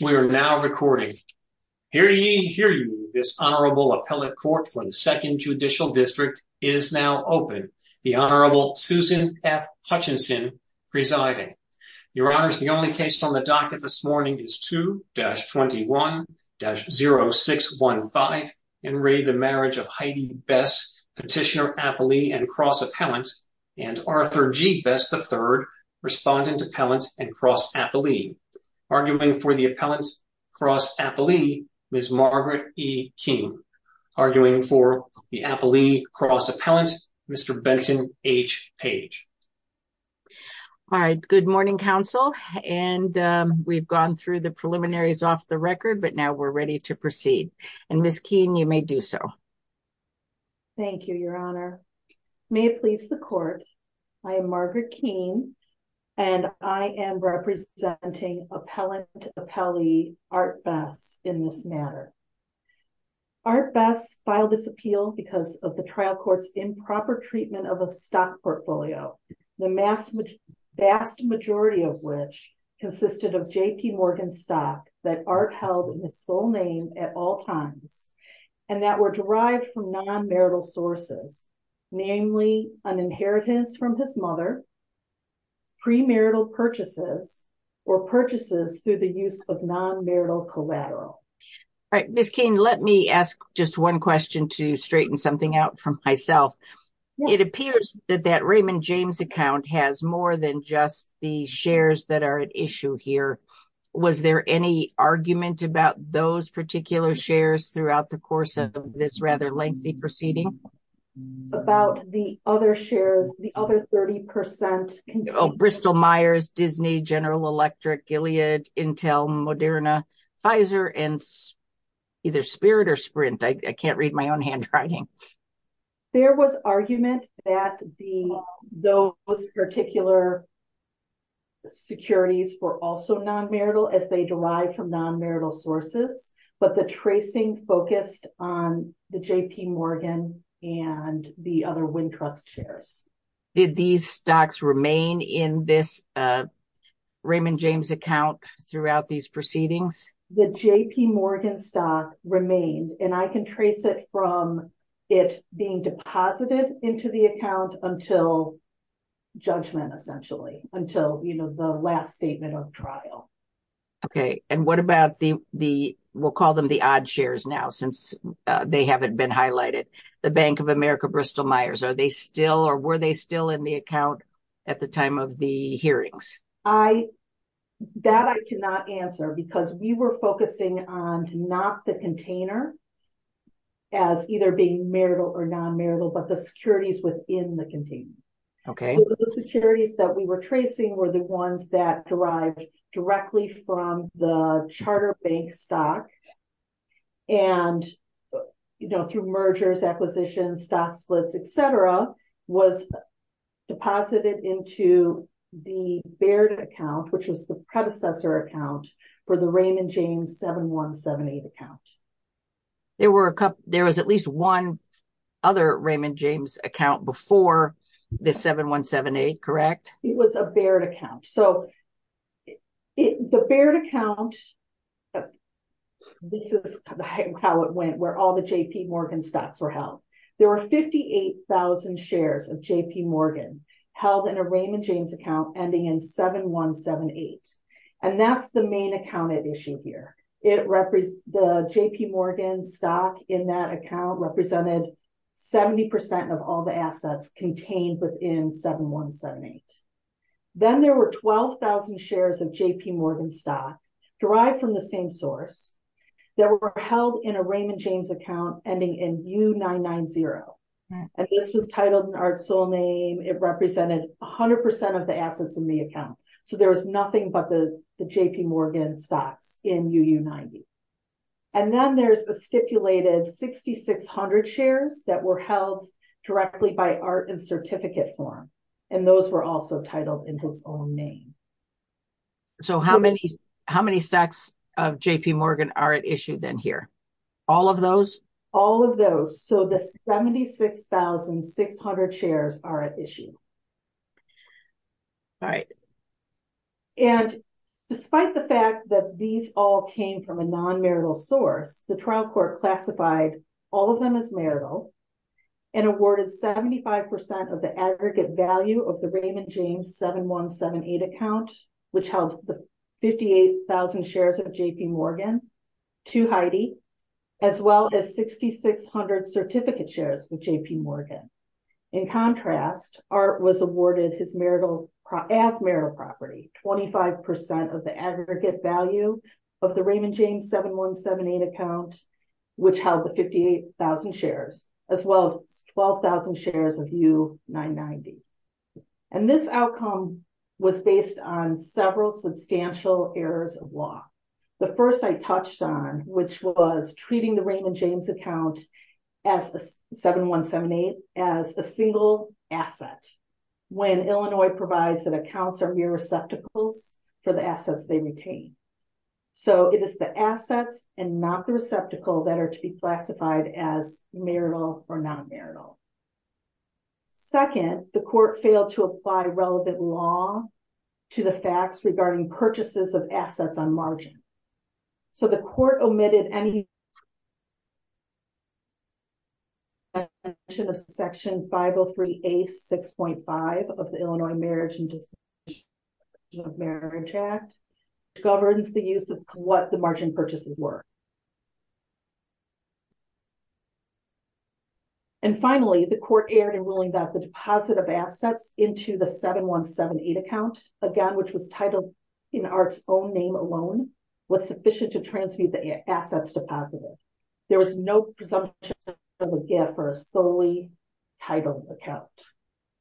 We are now recording. Hear ye, hear you, this Honorable Appellate Court for the Second Judicial District is now open. The Honorable Susan F. Hutchinson presiding. Your Honors, the only case on the docket this morning is 2-21-0615, in re the marriage of Heidi Bess, Petitioner-Appellee and Cross-Appellant, and Arthur G. Bess III, Respondent-Appellant and Cross-Appellee. Arguing for the Appellant-Cross-Appellee, Ms. Margaret E. Keene. Arguing for the Appellee-Cross-Appellant, Mr. Benton H. Page. All right, good morning, Counsel. And we've gone through the preliminaries off the record, but now we're ready to proceed. And Ms. Keene, you may do so. Thank you, Your Honor. May it please the Court, I am Margaret Keene, and I am representing Appellant-Appellee Art Bess in this matter. Art Bess filed this appeal because of the trial court's improper treatment of a stock portfolio, the vast majority of which consisted of J.P. Morgan stock that Art held in his full name at all times, and that were derived from non-marital sources, namely an inheritance from his mother, premarital purchases, or purchases through the use of non-marital collateral. All right, Ms. Keene, let me ask just one question to straighten something out for myself. It appears that that Raymond James account has more than just the shares that are at issue here. Was there any argument about those particular shares throughout the course of this rather lengthy proceeding? About the other shares, the other 30 percent? Bristol-Myers, Disney, General Electric, Gilead, Intel, Moderna, Pfizer, and either Spirit or Sprint. I can't read my own handwriting. There was argument that those particular securities were also non-marital as they derived from non-marital sources, but the tracing focused on the J.P. Morgan and the other Wintrust shares. Did these stocks remain in this Raymond James account throughout these proceedings? The J.P. Morgan stock remained, and I can trace it from it being deposited into the account until judgment, essentially, until the last statement of trial. Okay, and what about the, we'll call them the odd shares now since they haven't been highlighted? The Bank of America, Bristol-Myers, are they still or were they still in the account at the time of the hearings? That I cannot answer because we were focusing on not the container as either being marital or non-marital, but the securities within the container. Okay. The securities that we were tracing were the ones that derived directly from the charter bank stock and, you know, through mergers, acquisitions, stock splits, et cetera, was deposited into the Baird account, which was the predecessor account for the Raymond James 7178 account. There was at least one other Raymond James account before the 7178, correct? It was a Baird account. So the Baird account, this is how it went, where all the J.P. Morgan stocks were held. There were 58,000 shares of J.P. Morgan held in a Raymond James account ending in 7178, and that's the main account I've issued here. The J.P. Morgan stock in that account represented 70% of all the assets contained within 7178. Then there were 12,000 shares of J.P. Morgan stock derived from the same source that were held in a Raymond James account ending in U990, and this was titled in our sole name. It represented 100% of the assets in the account. So there was nothing but the J.P. Morgan stock in U990. And then there's the stipulated 6,600 shares that were held directly by art and certificate form, and those were also titled in his own name. So how many stacks of J.P. Morgan are at issue then here? All of those? All of those. So the 76,600 shares are at issue. All right. And despite the fact that these all came from a non-marital source, the trial court classified all of them as marital and awarded 75% of the aggregate value of the Raymond James 7178 account, which held the 58,000 shares of J.P. Morgan to Heidi, as well as 6,600 certificate shares of J.P. Morgan. In contrast, Art was awarded his marital property, 25% of the aggregate value of the Raymond James 7178 account, which held the 58,000 shares, as well as 12,000 shares of U990. And this outcome was based on several substantial errors of law. The first I touched on, which was treating the Raymond James account as the 7178, as a single asset, when Illinois provides that accounts are mere receptacles for the assets they retain. So it is the assets and not the receptacle that are to be classified as marital or non-marital. Second, the court failed to apply relevant law to the facts regarding purchases of assets on margin. So the court omitted any section 503A.6.5 of the Illinois Marriage and Disposition of Marriage Act, which governs the use of what the margin purchases were. And finally, the court erred in ruling that the deposit of assets into the 7178 account, again, which was titled in Art's own name alone, was sufficient to transfer the assets deposited. There was no presumption of a gap for a solely titled account.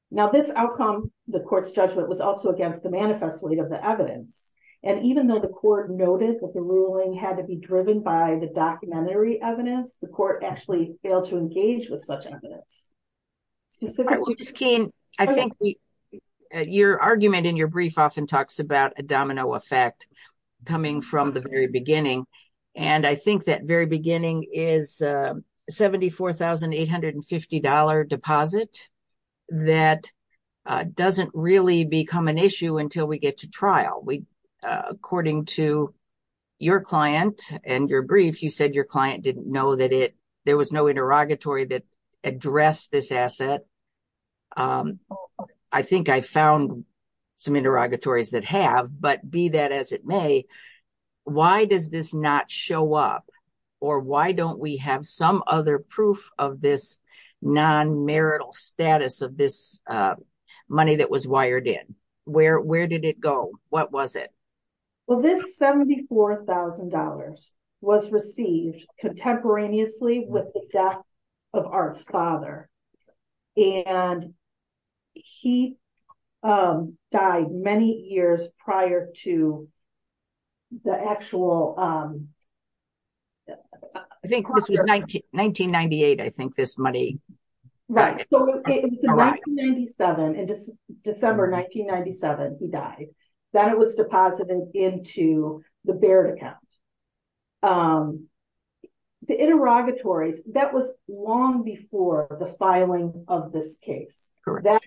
Now, this outcome, the court's judgment, was also against the manifesto of the evidence. And even though the court noticed that the ruling had to be driven by the documentary evidence, the court actually failed to engage with such evidence. Your argument in your brief often talks about a domino effect coming from the very beginning. And I think that very beginning is a $74,850 deposit that doesn't really become an issue until we get to trial. According to your client and your brief, you said your client didn't know that there was no interrogatory that addressed this asset. I think I found some interrogatories that have, but be that as it may, why does this not show up? Or why don't we have some other proof of this non-marital status of this money that was wired in? Where did it go? What was it? Well, this $74,000 was received contemporaneously with the death of Art's father. And he died many years prior to the actual... I think this was 1998, I think, this money. Right, so it was in 1997, in December 1997, he died. That was deposited into the Baird account. The interrogatory, that was long before the filing of this case. That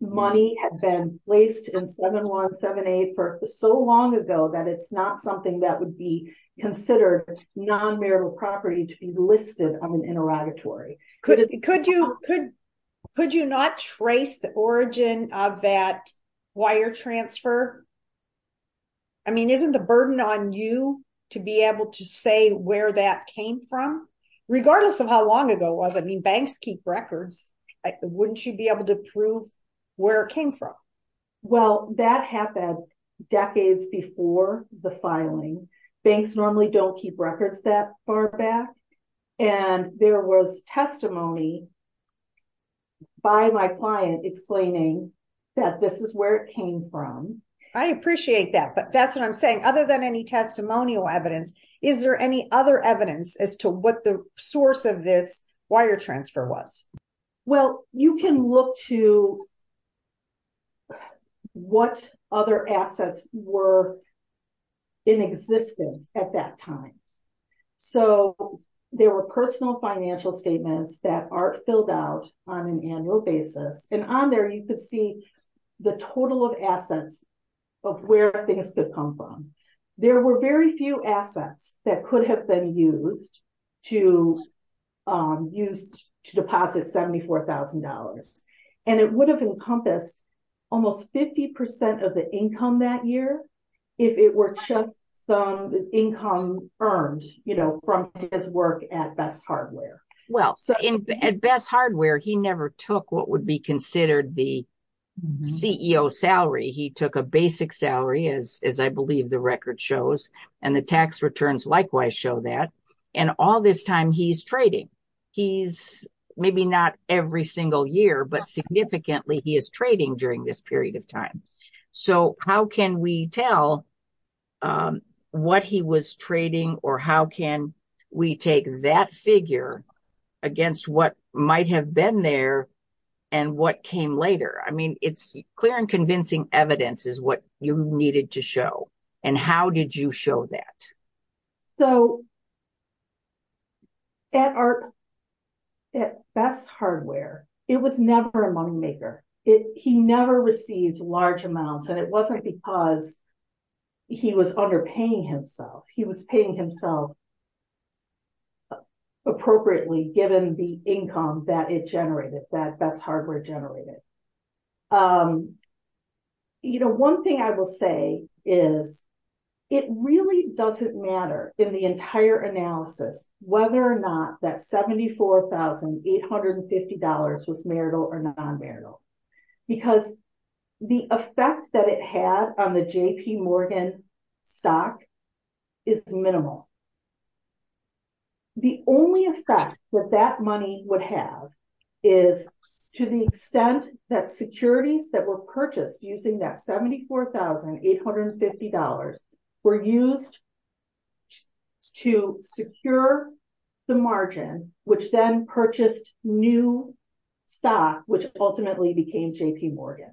money had been placed in 717A for so long ago that it's not something that would be considered non-marital property to be listed on an interrogatory. Could you not trace the origin of that wire transfer? I mean, isn't the burden on you to be able to say where that came from? Regardless of how long ago, I mean, banks keep records. Wouldn't you be able to prove where it came from? Well, that happened decades before the filing. Banks normally don't keep records that far back. And there was testimony by my client explaining that this is where it came from. I appreciate that, but that's what I'm saying. Other than any testimonial evidence, is there any other evidence as to what the source of this wire transfer was? Well, you can look to what other assets were in existence at that time. So there were personal financial statements that are filled out on an annual basis. And on there, you could see the total of assets of where things could come from. There were very few assets that could have been used to deposit $74,000. And it would have encompassed almost 50% of the income that year if it were just some income earned from his work at Best Hardware. Well, at Best Hardware, he never took what would be considered the CEO salary. He took a basic salary, as I believe the record shows. And the tax returns likewise show that. And all this time, he's trading. He's maybe not every single year, but significantly, he is trading during this period of time. So how can we tell what he was trading or how can we take that figure against what might have been there and what came later? I mean, it's clear and convincing evidence is what you needed to show. And how did you show that? So at Best Hardware, it was never a moneymaker. He never received large amounts. And it wasn't because he was underpaying himself. He was paying himself appropriately given the income that it generated, that Best Hardware generated. You know, one thing I will say is it really doesn't matter in the entire analysis whether or not that $74,850 was marital or non-marital. Because the effect that it had on the J.P. Morgan stock is minimal. The only effect that that money would have is to the extent that securities that were purchased using that $74,850 were used to secure the margin, which then purchased new stock, which ultimately became J.P. Morgan.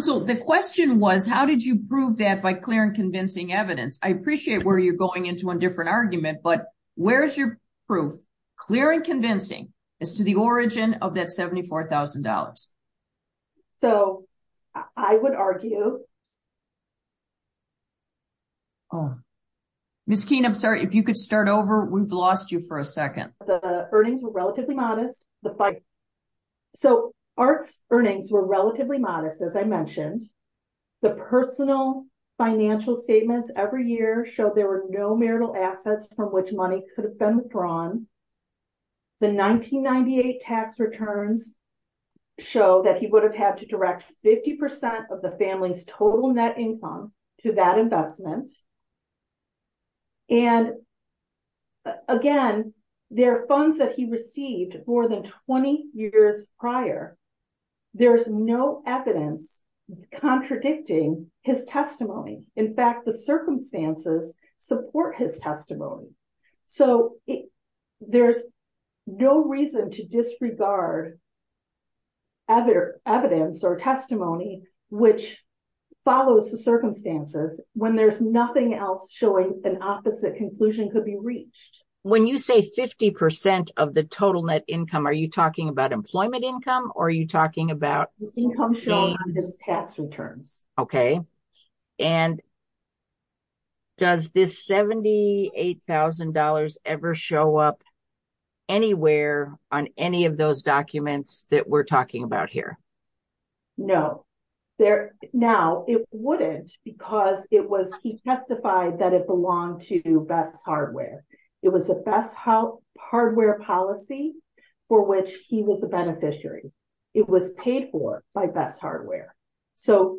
So the question was, how did you prove that by clear and convincing evidence? I appreciate where you're going into one different argument, but where is your proof? Clear and convincing is to the origin of that $74,000. So I would argue. Miss Keene, I'm sorry, if you could start over, we've lost you for a second. The earnings were relatively modest. So ARC's earnings were relatively modest, as I mentioned. The personal financial statements every year showed there were no marital assets from which money could have been withdrawn. The 1998 tax returns show that he would have had to direct 50% of the family's total net income to that investment. And, again, there are funds that he received more than 20 years prior. There's no evidence contradicting his testimony. In fact, the circumstances support his testimony. So there's no reason to disregard evidence or testimony which follows the circumstances when there's nothing else showing an opposite conclusion could be reached. When you say 50% of the total net income, are you talking about employment income, or are you talking about? The income shown on the tax returns. Okay. And does this $78,000 ever show up anywhere on any of those documents that we're talking about here? No. Now, it wouldn't because it was he testified that it belonged to Best Hardware. It was a Best Hardware policy for which he was a beneficiary. It was paid for by Best Hardware. So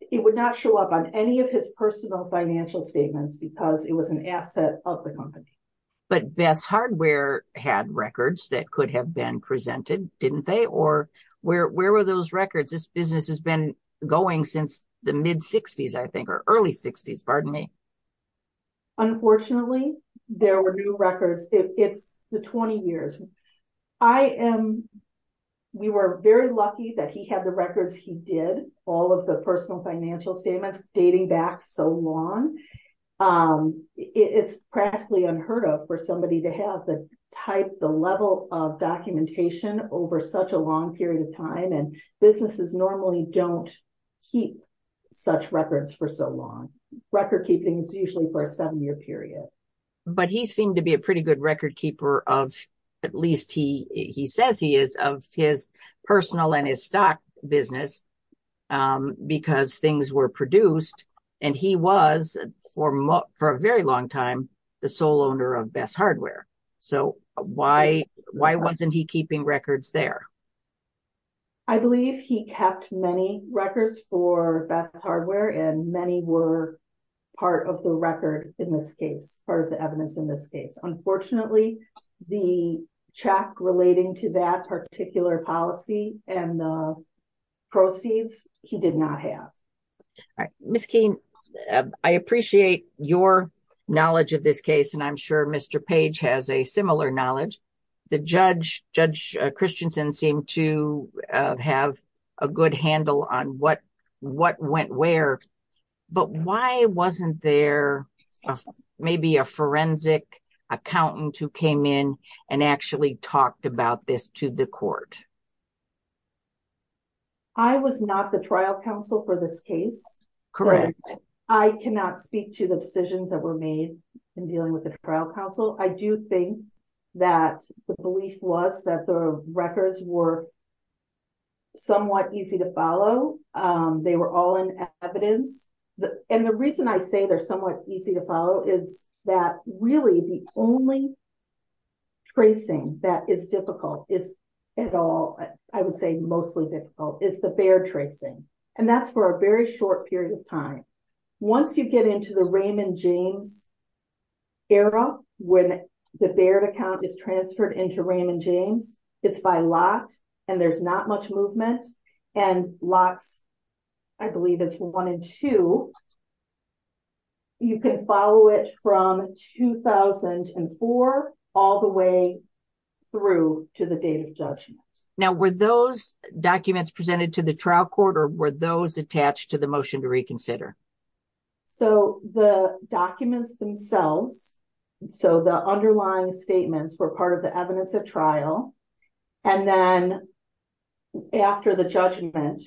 it would not show up on any of his personal financial statements because it was an asset of the company. But Best Hardware had records that could have been presented, didn't they? Or where were those records? This business has been going since the mid-60s, I think, or early 60s. Pardon me. Unfortunately, there were new records. It's the 20 years. We were very lucky that he had the records he did, all of the personal financial statements dating back so long. It's practically unheard of for somebody to have the type, the level of documentation over such a long period of time. And businesses normally don't keep such records for so long. Record keeping is usually for a seven-year period. But he seemed to be a pretty good record keeper of, at least he says he is, of his personal and his stock business because things were produced. And he was, for a very long time, the sole owner of Best Hardware. So why wasn't he keeping records there? I believe he kept many records for Best Hardware, and many were part of the record in this case, part of the evidence in this case. Unfortunately, the check relating to that particular policy and the proceeds, he did not have. Ms. Keene, I appreciate your knowledge of this case, and I'm sure Mr. Page has a similar knowledge. The judge, Judge Christensen, seemed to have a good handle on what went where. But why wasn't there maybe a forensic accountant who came in and actually talked about this to the court? I was not the trial counsel for this case. Correct. I cannot speak to the decisions that were made in dealing with the trial counsel. I do think that the belief was that the records were somewhat easy to follow. They were all in evidence. And the reason I say they're somewhat easy to follow is that really the only tracing that is difficult, is at all, I would say mostly difficult, is the fair tracing. And that's for a very short period of time. Once you get into the Raymond James era, when the Baird account is transferred into Raymond James, it's by lock, and there's not much movement. And lock, I believe, is 1 and 2. You can follow it from 2004 all the way through to the date of judgment. Now, were those documents presented to the trial court, or were those attached to the motion to reconsider? So, the documents themselves, so the underlying statements, were part of the evidence at trial. And then after the judgment,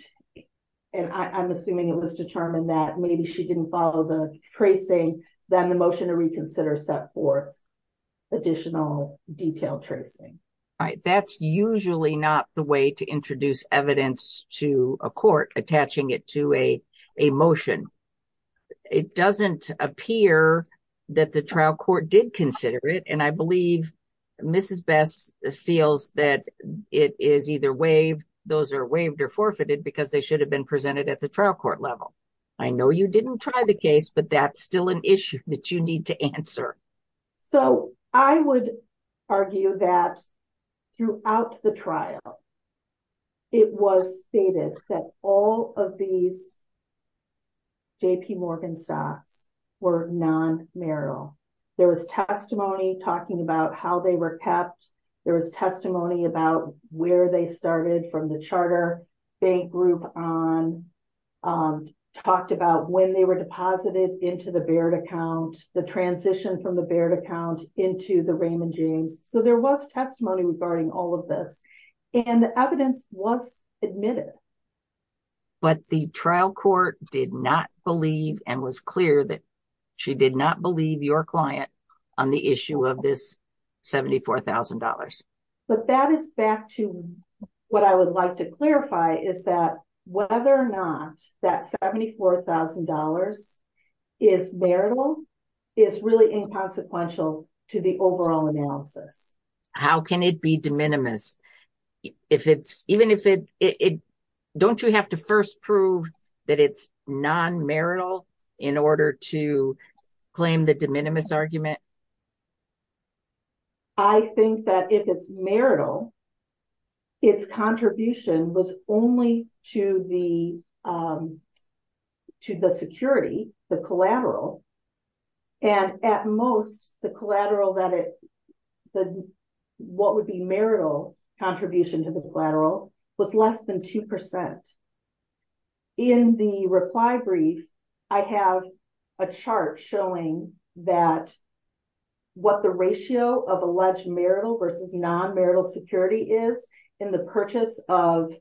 and I'm assuming it was determined that maybe she didn't follow the tracing, then the motion to reconsider set forth additional detailed tracing. That's usually not the way to introduce evidence to a court, attaching it to a motion. It doesn't appear that the trial court did consider it, and I believe Mrs. Best feels that it is either waived, those are waived or forfeited, because they should have been presented at the trial court level. I know you didn't try the case, but that's still an issue that you need to answer. So, I would argue that throughout the trial, it was stated that all of these JP Morgan stocks were non-marital. There was testimony talking about how they were kept. There was testimony about where they started from the charter bank group on, talked about when they were deposited into the Baird account. The transition from the Baird account into the Raymond James. So, there was testimony regarding all of this, and the evidence was admitted. But the trial court did not believe and was clear that she did not believe your client on the issue of this $74,000. But that is back to what I would like to clarify, is that whether or not that $74,000 is marital is really inconsequential to the overall analysis. How can it be de minimis? Don't you have to first prove that it's non-marital in order to claim the de minimis argument? I think that if it's marital, its contribution was only to the security, the collateral. And at most, the collateral, what would be marital contribution to the collateral, was less than 2%. In the reply brief, I have a chart showing that what the ratio of alleged marital versus non-marital security is in the purchase of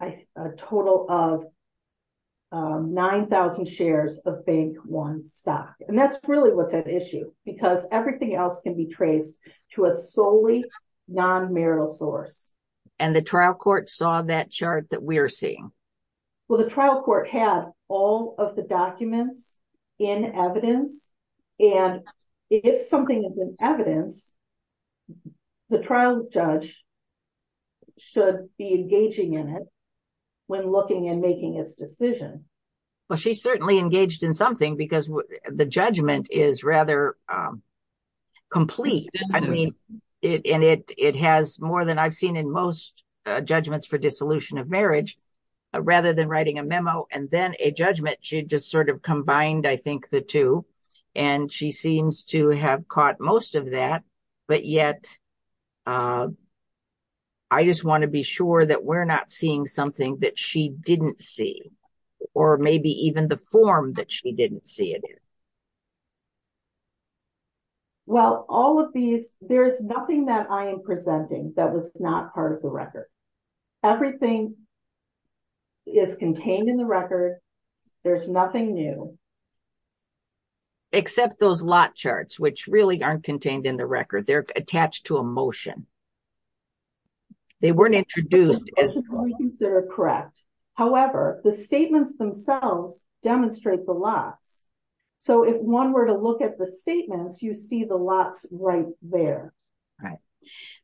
a total of 9,000 shares of bank one stock. And that's really what's at issue, because everything else can be traced to a solely non-marital source. And the trial court saw that chart that we're seeing. Well, the trial court has all of the documents in evidence. And if something is in evidence, the trial judge should be engaging in it when looking and making its decision. Well, she certainly engaged in something, because the judgment is rather complete. And it has more than I've seen in most judgments for dissolution of marriage. Rather than writing a memo and then a judgment, she just sort of combined, I think, the two. And she seems to have caught most of that. But yet, I just want to be sure that we're not seeing something that she didn't see. Or maybe even the form that she didn't see it in. Well, all of these, there's nothing that I am presenting that was not part of the record. Everything is contained in the record. There's nothing new. Except those lot charts, which really aren't contained in the record. They're attached to a motion. They weren't introduced. They're correct. However, the statements themselves demonstrate the lot. So if one were to look at the statements, you'd see the lot right there. Right.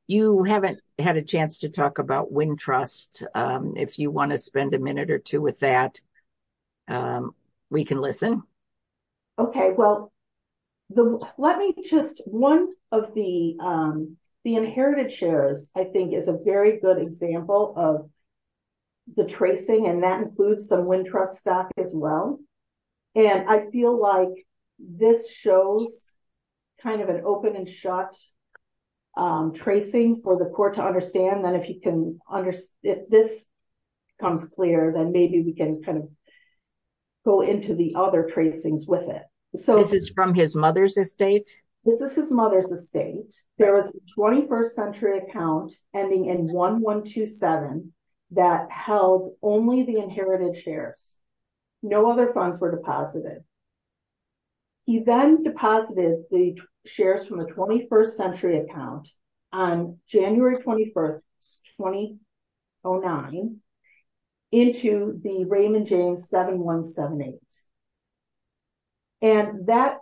You haven't had a chance to talk about Wintrust. If you want to spend a minute or two with that, we can listen. Okay. Well, let me just, one of the inherited shares, I think, is a very good example of the tracing. And that includes the Wintrust staff as well. And I feel like this shows kind of an open and shut tracing for the court to understand. And if he can, if this comes clear, then maybe we can kind of go into the other tracings with it. This is from his mother's estate? This is his mother's estate. There is a 21st century account ending in 1127 that held only the inherited shares. No other funds were deposited. He then deposited the shares from the 21st century account on January 21st, 2009, into the Raymond James 7178. And that's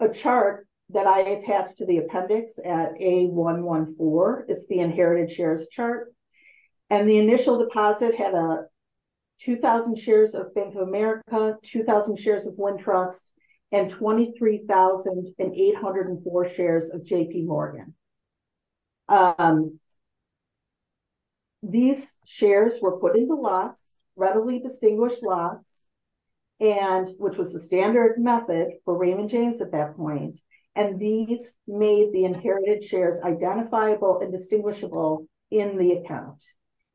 a chart that I attached to the appendix at A114. It's the inherited shares chart. And the initial deposit had 2,000 shares of Bank of America, 2,000 shares of Wintrust, and 23,804 shares of J.P. Morgan. These shares were put into lots, readily distinguished lots, which was the standard method for Raymond James at that point. And these made the inherited shares identifiable and distinguishable in the account.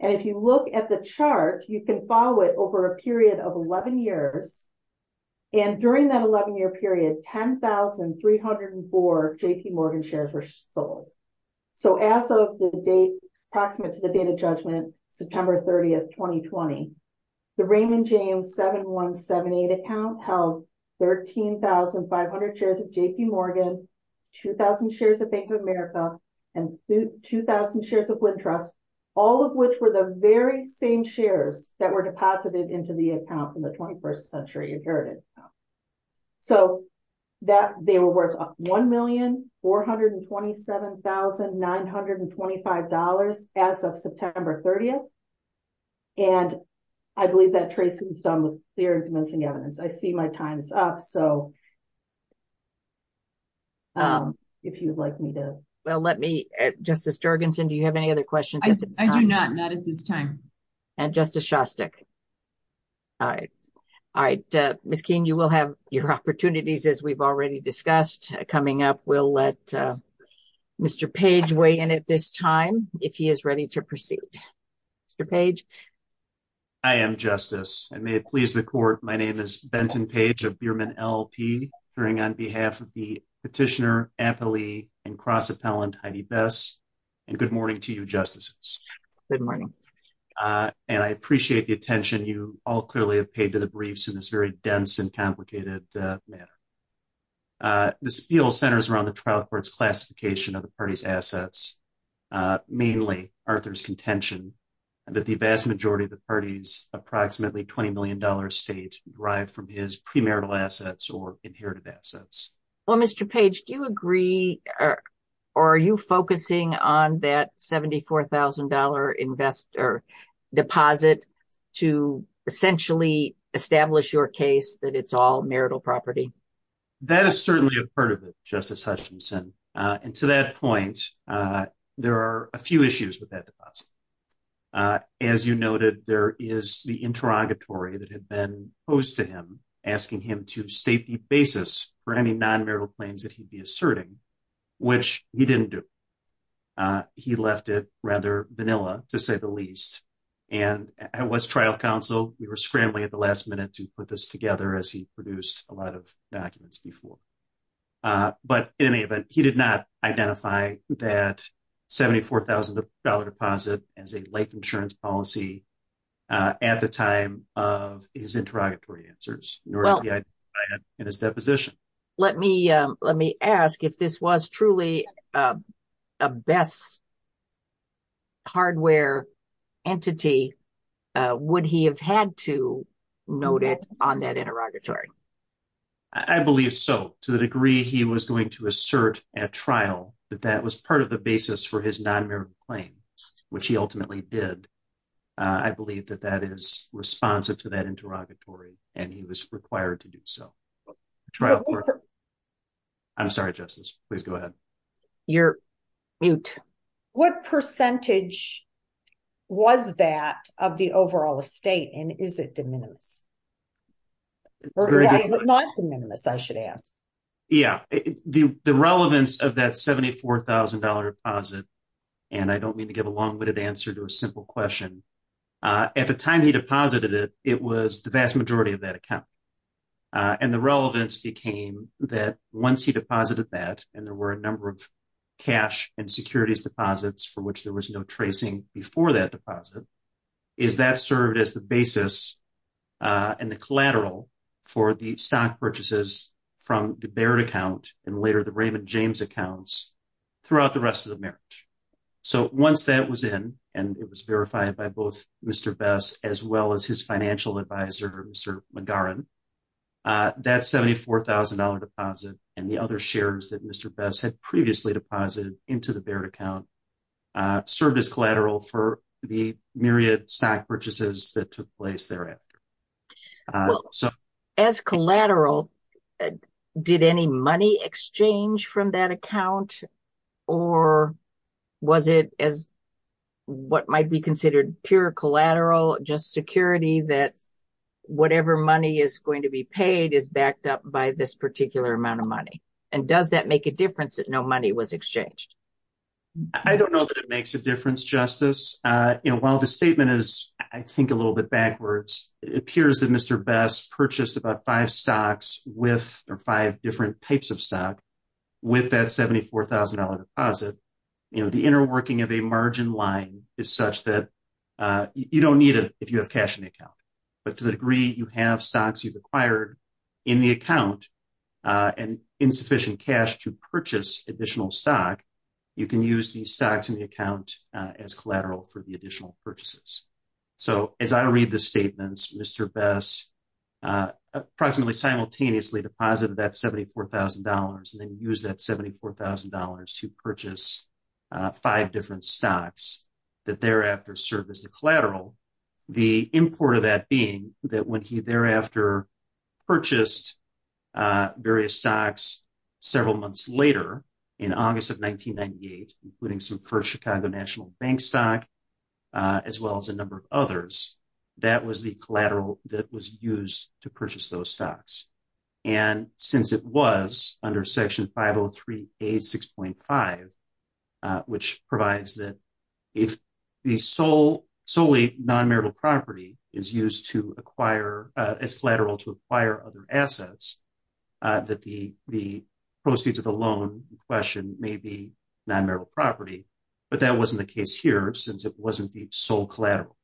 And if you look at the chart, you can follow it over a period of 11 years. And during that 11-year period, 10,304 J.P. Morgan shares were sold. So as of the date, approximate to the date of judgment, September 30th, 2020, the Raymond James 7178 account held 13,500 shares of J.P. Morgan, 2,000 shares of Bank of America, and 2,000 shares of Wintrust, all of which were the very same shares that were deposited into the account in the 21st century inherited account. So they were worth $1,427,925 as of September 30th. And I believe that traces some of the theories mentioned in the evidence. I see my time is up, so if you'd like me to... Well, let me... Justice Jurgensen, do you have any other questions at this time? I do not, not at this time. And Justice Shostak? All right. All right. Ms. Keene, you will have your opportunities, as we've already discussed. Coming up, we'll let Mr. Page weigh in at this time, if he is ready to proceed. Mr. Page? I am, Justice. And may it please the Court, my name is Benton Page of Behrman LLP, appearing on behalf of the petitioner, affilee, and cross-appellant Heidi Best. And good morning to you, Justices. Good morning. And I appreciate the attention you all clearly have paid to the briefs in this very dense and complicated manner. This appeal centers around the trial court's classification of the party's assets, mainly Arthur's contention that the vast majority of the party's approximately $20 million estate derived from his premarital assets or inherited assets. Well, Mr. Page, do you agree, or are you focusing on that $74,000 deposit to essentially establish your case that it's all marital property? That is certainly a part of it, Justice Hutchinson. And to that point, there are a few issues with that deposit. As you noted, there is the interrogatory that had been posed to him, asking him to state the basis for any non-marital claims that he'd be asserting, which he didn't do. He left it rather vanilla, to say the least. And I was trial counsel. We were friendly at the last minute to put this together, as he produced a lot of documents before. But in any event, he did not identify that $74,000 deposit as a life insurance policy at the time of his interrogatory answers, nor did he identify it in his deposition. Let me ask, if this was truly a best hardware entity, would he have had to note it on that interrogatory? I believe so, to the degree he was going to assert at trial that that was part of the basis for his non-marital claims, which he ultimately did. I believe that that is responsive to that interrogatory, and he was required to do so. I'm sorry, Justice. Please go ahead. You're mute. What percentage was that of the overall estate, and is it de minimis? Not de minimis, I should add. Yeah, the relevance of that $74,000 deposit, and I don't mean to give a long-winded answer to a simple question, at the time he deposited it, it was the vast majority of that account. And the relevance became that once he deposited that, and there were a number of cash and securities deposits for which there was no tracing before that deposit, is that served as the basis and the collateral for the stock purchases from the Baird account and later the Raymond James accounts throughout the rest of the marriage. So once that was in, and it was verified by both Mr. Bess as well as his financial advisor, Mr. McGarren, that $74,000 deposit and the other shares that Mr. Bess had previously deposited into the Baird account served as collateral for the myriad stock purchases that took place thereafter. As collateral, did any money exchange from that account, or was it as what might be considered pure collateral, just security that whatever money is going to be paid is backed up by this particular amount of money? And does that make a difference that no money was exchanged? I don't know that it makes a difference, Justice. While the statement is, I think, a little bit backwards, it appears that Mr. Bess purchased about five stocks or five different types of stocks with that $74,000 deposit. The inner working of a margin line is such that you don't need it if you have cash in the account. But to the degree you have stocks you've acquired in the account and insufficient cash to purchase additional stock, you can use these stocks in the account as collateral for the additional purchases. So as I read the statements, Mr. Bess approximately simultaneously deposited that $74,000 and then used that $74,000 to purchase five different stocks that thereafter served as a collateral, the import of that being that when he thereafter purchased various stocks several months later in August of 1998, including some first Chicago National Bank stock as well as a number of others, that was the collateral that was used to purchase those stocks. And since it was under Section 503A6.5, which provides that if the solely non-marital property is used as collateral to acquire other assets, that the proceeds of the loan in question may be non-marital property. But that wasn't the case here since it wasn't the sole collateral.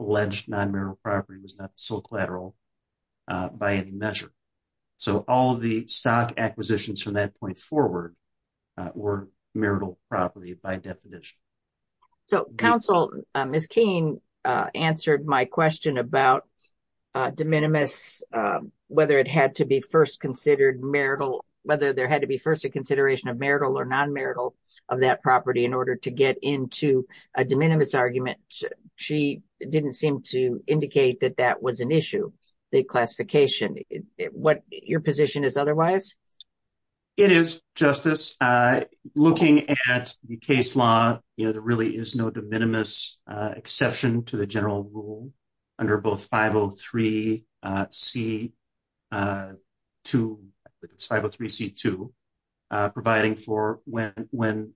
Alleged non-marital property was not the sole collateral by any measure. So all of the stock acquisitions from that point forward were marital property by definition. So counsel, Ms. Keene answered my question about de minimis, whether it had to be first considered marital, whether there had to be first a consideration of marital or non-marital of that property in order to get into a de minimis argument. She didn't seem to indicate that that was an issue, the classification. Your position is otherwise? It is, Justice. Looking at the case law, there really is no de minimis exception to the general rule under both 503C2, providing for when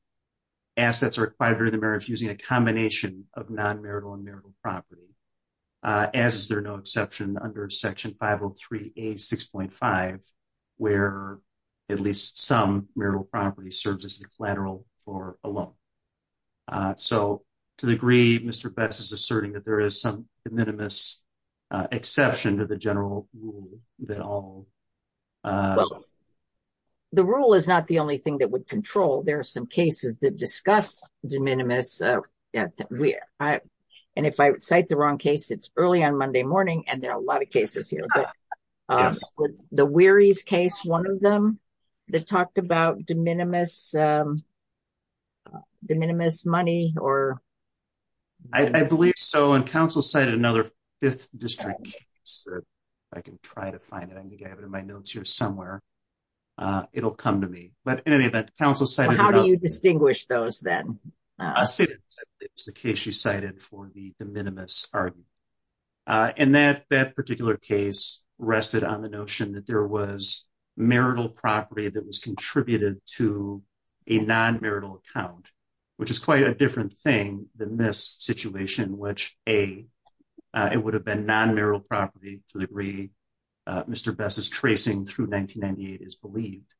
assets are acquired during the marriage using a combination of non-marital and marital property, as there is no exception under Section 503A6.5, where at least some marital property serves as a collateral for a loan. So to the degree Mr. Betz is asserting that there is some de minimis exception to the general rule that all... The rule is not the only thing that would control. There are some cases that discuss de minimis. And if I cite the wrong case, it's early on Monday morning, and there are a lot of cases here. Was the Wearies case one of them that talked about de minimis money? I believe so, and counsel cited another Fifth District case. If I can try to find it, I think I have it in my notes here somewhere. It'll come to me. How do you distinguish those then? I think it's the case you cited for the de minimis argument. And that particular case rested on the notion that there was marital property that was contributed to a non-marital account, which is quite a different thing than this situation, which A, it would have been non-marital property to the degree Mr. Betz's tracing through 1998 is believed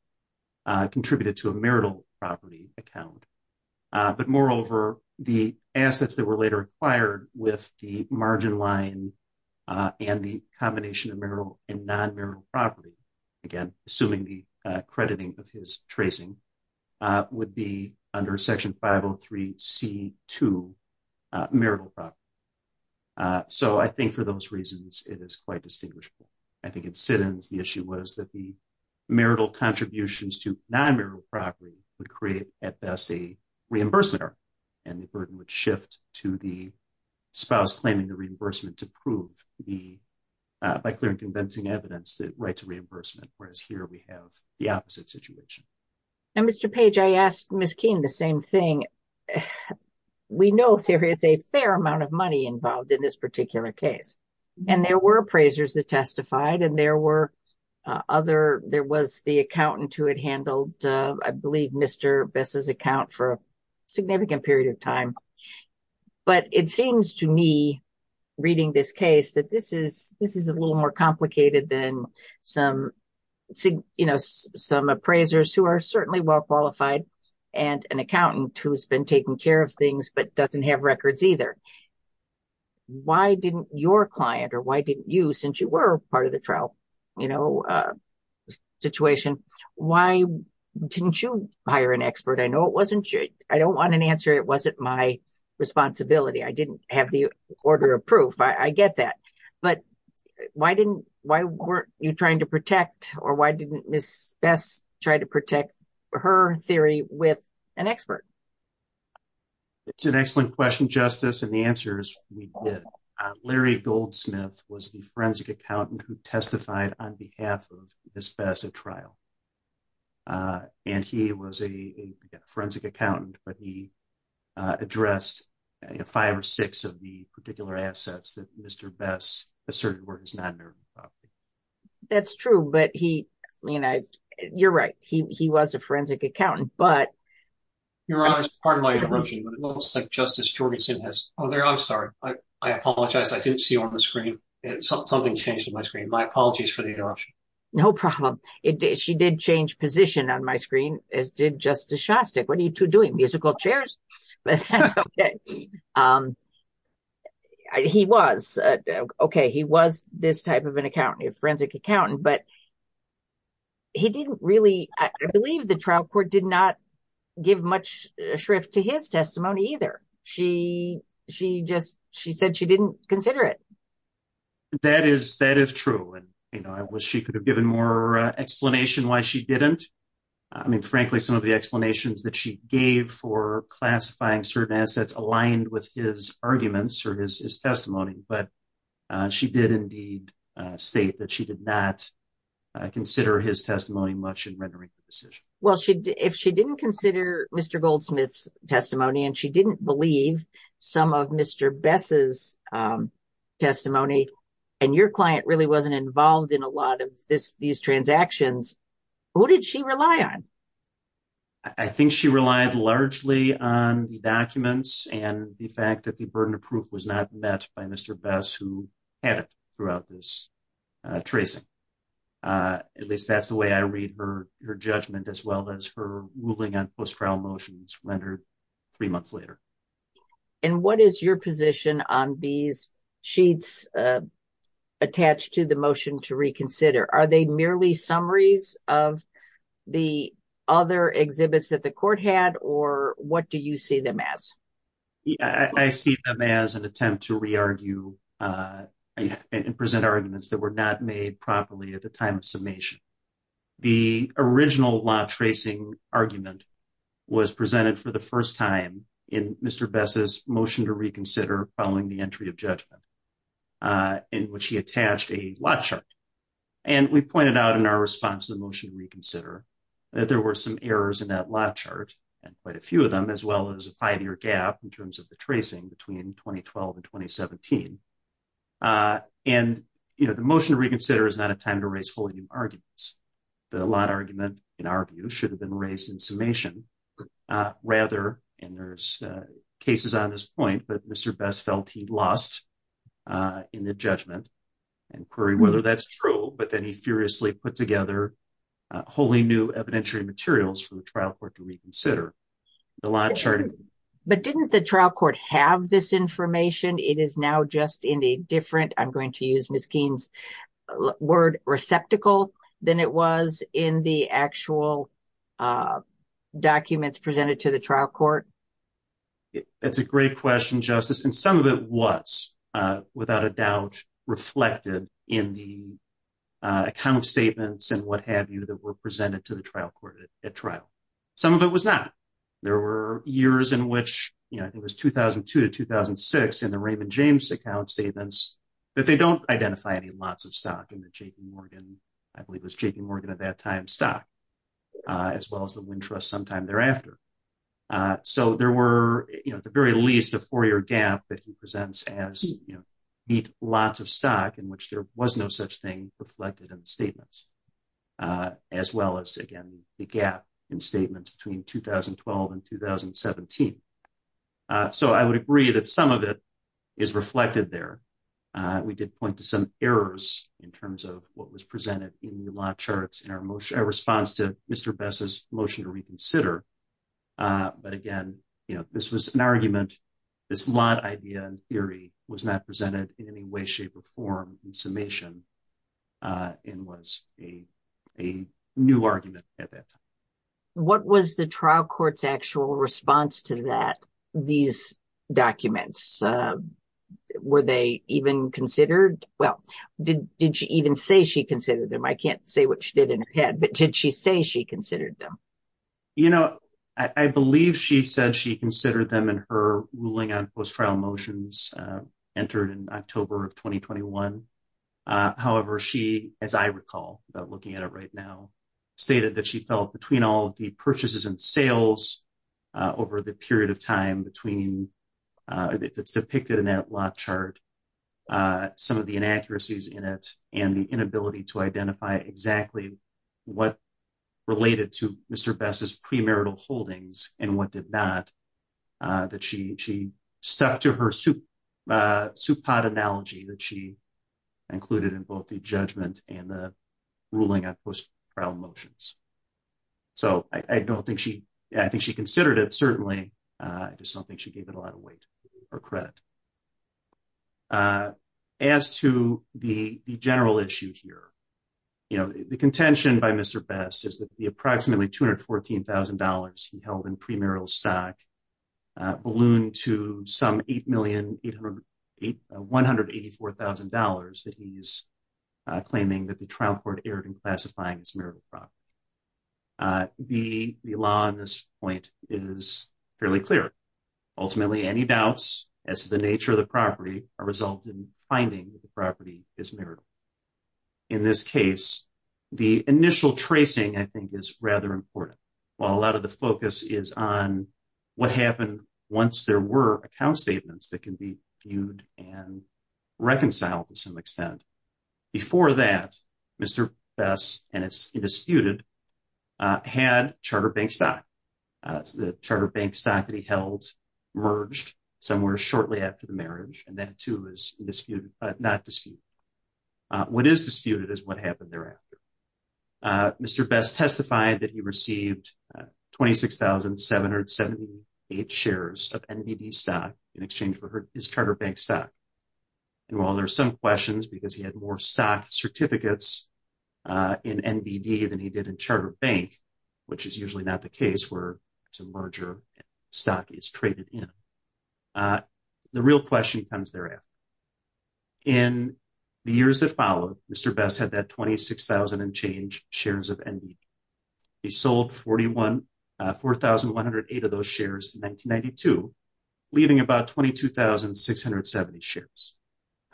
contributed to a marital property account. But moreover, the assets that were later acquired with the margin line and the combination of marital and non-marital property, again, assuming the crediting of his tracing, would be under Section 503C2, marital property. So I think for those reasons, it is quite distinguishable. I think in Sitton's, the issue was that the marital contributions to non-marital property would create, at best, a reimbursement error, and the burden would shift to the spouse claiming the reimbursement to prove by clear and convincing evidence the right to reimbursement, whereas here we have the opposite situation. And, Mr. Page, I asked Ms. Keene the same thing. We know there is a fair amount of money involved in this particular case, and there were appraisers that testified, and there was the accountant who had handled, I believe, Mr. Betz's account for a significant period of time. But it seems to me, reading this case, that this is a little more complicated than some appraisers who are certainly well-qualified and an accountant who has been taking care of things but doesn't have records either. Why didn't your client, or why didn't you, since you were part of the trial situation, why didn't you hire an expert? I know I don't want an answer, it wasn't my responsibility. I didn't have the order of proof. I get that. But why weren't you trying to protect, or why didn't Ms. Betz try to protect, her theory with an expert? It's an excellent question, Justice, and the answer is we did. Larry Goldsmith was the forensic accountant who testified on behalf of Ms. Betz at trial, and he was a forensic accountant, but he addressed five or six of the particular assets that Mr. Betz asserted were his non-nervous property. That's true, but you're right, he was a forensic accountant, Your Honor, pardon my interruption, but it looks like Justice Jorgeson has, oh, there, I'm sorry, I apologize, I didn't see you on the screen. Something changed on my screen. My apologies for the interruption. No problem. She did change position on my screen, as did Justice Shostak. What are you two doing, musical chairs? He was, okay, he was this type of an accountant, a forensic accountant, but he didn't really, I believe the trial court did not give much shrift to his testimony either. She just, she said she didn't consider it. That is true, and I wish she could have given more explanation why she didn't. I mean, frankly, some of the explanations that she gave for classifying certain assets aligned with his arguments or his testimony, but she did indeed state that she did not consider his testimony much in rendering the decision. Well, if she didn't consider Mr. Goldsmith's testimony and she didn't believe some of Mr. Bess' testimony and your client really wasn't involved in a lot of these transactions, who did she rely on? I think she relied largely on the documents and the fact that the burden of proof was not met by Mr. Bess, who had it throughout this tracing. At least that's the way I read her judgment as well as her ruling on post-trial motions rendered three months later. And what is your position on these sheets attached to the motion to reconsider? Are they merely summaries of the other exhibits that the court had or what do you see them as? I see them as an attempt to re-argue and present arguments that were not made properly at the time of summation. The original law tracing argument was presented for the first time in Mr. Bess' motion to reconsider following the entry of judgment in which he attached a law chart. And we pointed out in our response to the motion to reconsider that there were some errors in that law chart, and quite a few of them, as well as a five-year gap in terms of the tracing between 2012 and 2017. And the motion to reconsider is not a time to raise wholly new arguments. The law argument, in our view, should have been raised in summation. Rather, and there's cases on this point, that Mr. Bess felt he lost in the judgment, inquiring whether that's true, but then he furiously put together wholly new evidentiary materials for the trial court to reconsider. But didn't the trial court have this information? It is now just in a different, I'm going to use Ms. Keene's word, receptacle than it was in the actual documents presented to the trial court? That's a great question, Justice, and some of it was, without a doubt, reflected in the kind of statements and what have you that were presented to the trial court at trial. Some of it was not. There were years in which, I think it was 2002 to 2006, in the Raymond James account statements, that they don't identify any lots of stock in the J.P. Morgan, I believe it was J.P. Morgan at that time, stock, as well as the Wynn Trust sometime thereafter. So there were, at the very least, a four-year gap that he presents as lots of stock in which there was no such thing reflected in the statements, as well as, again, the gap in statements between 2012 and 2017. So I would agree that some of it is reflected there. We did point to some errors in terms of what was presented in the lot charts in our response to Mr. Bess's motion to reconsider. But again, this was an argument, this lot idea in theory was not presented in any way, shape, or form in summation and was a new argument at that time. What was the trial court's actual response to these documents? Were they even considered? Well, did she even say she considered them? I can't say what she did in her head, but did she say she considered them? You know, I believe she said she considered them in her ruling on post-trial motions entered in October of 2021. However, she, as I recall, looking at it right now, stated that she felt between all the purchases and sales over the period of time that's depicted in that lot chart, some of the inaccuracies in it and the inability to identify exactly what related to Mr. Bess's premarital holdings and what did not, that she stuck to her soup pot analogy that she included in both the judgment and the ruling on post-trial motions. So I don't think she, I think she considered it, certainly. I just don't think she gave it a lot of weight or credit. As to the general issue here, you know, the contention by Mr. Bess is that the approximately $214,000 he held in premarital stock ballooned to some $8,184,000 that he's claiming that the trial court erred in classifying as marital property. The law on this point is fairly clear. Ultimately, any doubts as to the nature of the property are resulted in finding that the property is marital. In this case, the initial tracing, I think, is rather important. While a lot of the focus is on what happened once there were account statements that can be viewed and reconciled to some extent. Before that, Mr. Bess, and it's disputed, had Charter Bank stock. The Charter Bank stock that he held merged somewhere shortly after the marriage, and that, too, is not disputed. What is disputed is what happened thereafter. Mr. Bess testified that he received 26,778 shares of NBB stock in exchange for his Charter Bank stock. While there are some questions because he had more stock certificates in NBB than he did in Charter Bank, which is usually not the case where some merger stock is traded in, the real question comes thereafter. In the years that followed, Mr. Bess had that 26,000 in change shares of NBB. He sold 4,108 of those shares in 1992, leaving about 22,670 shares.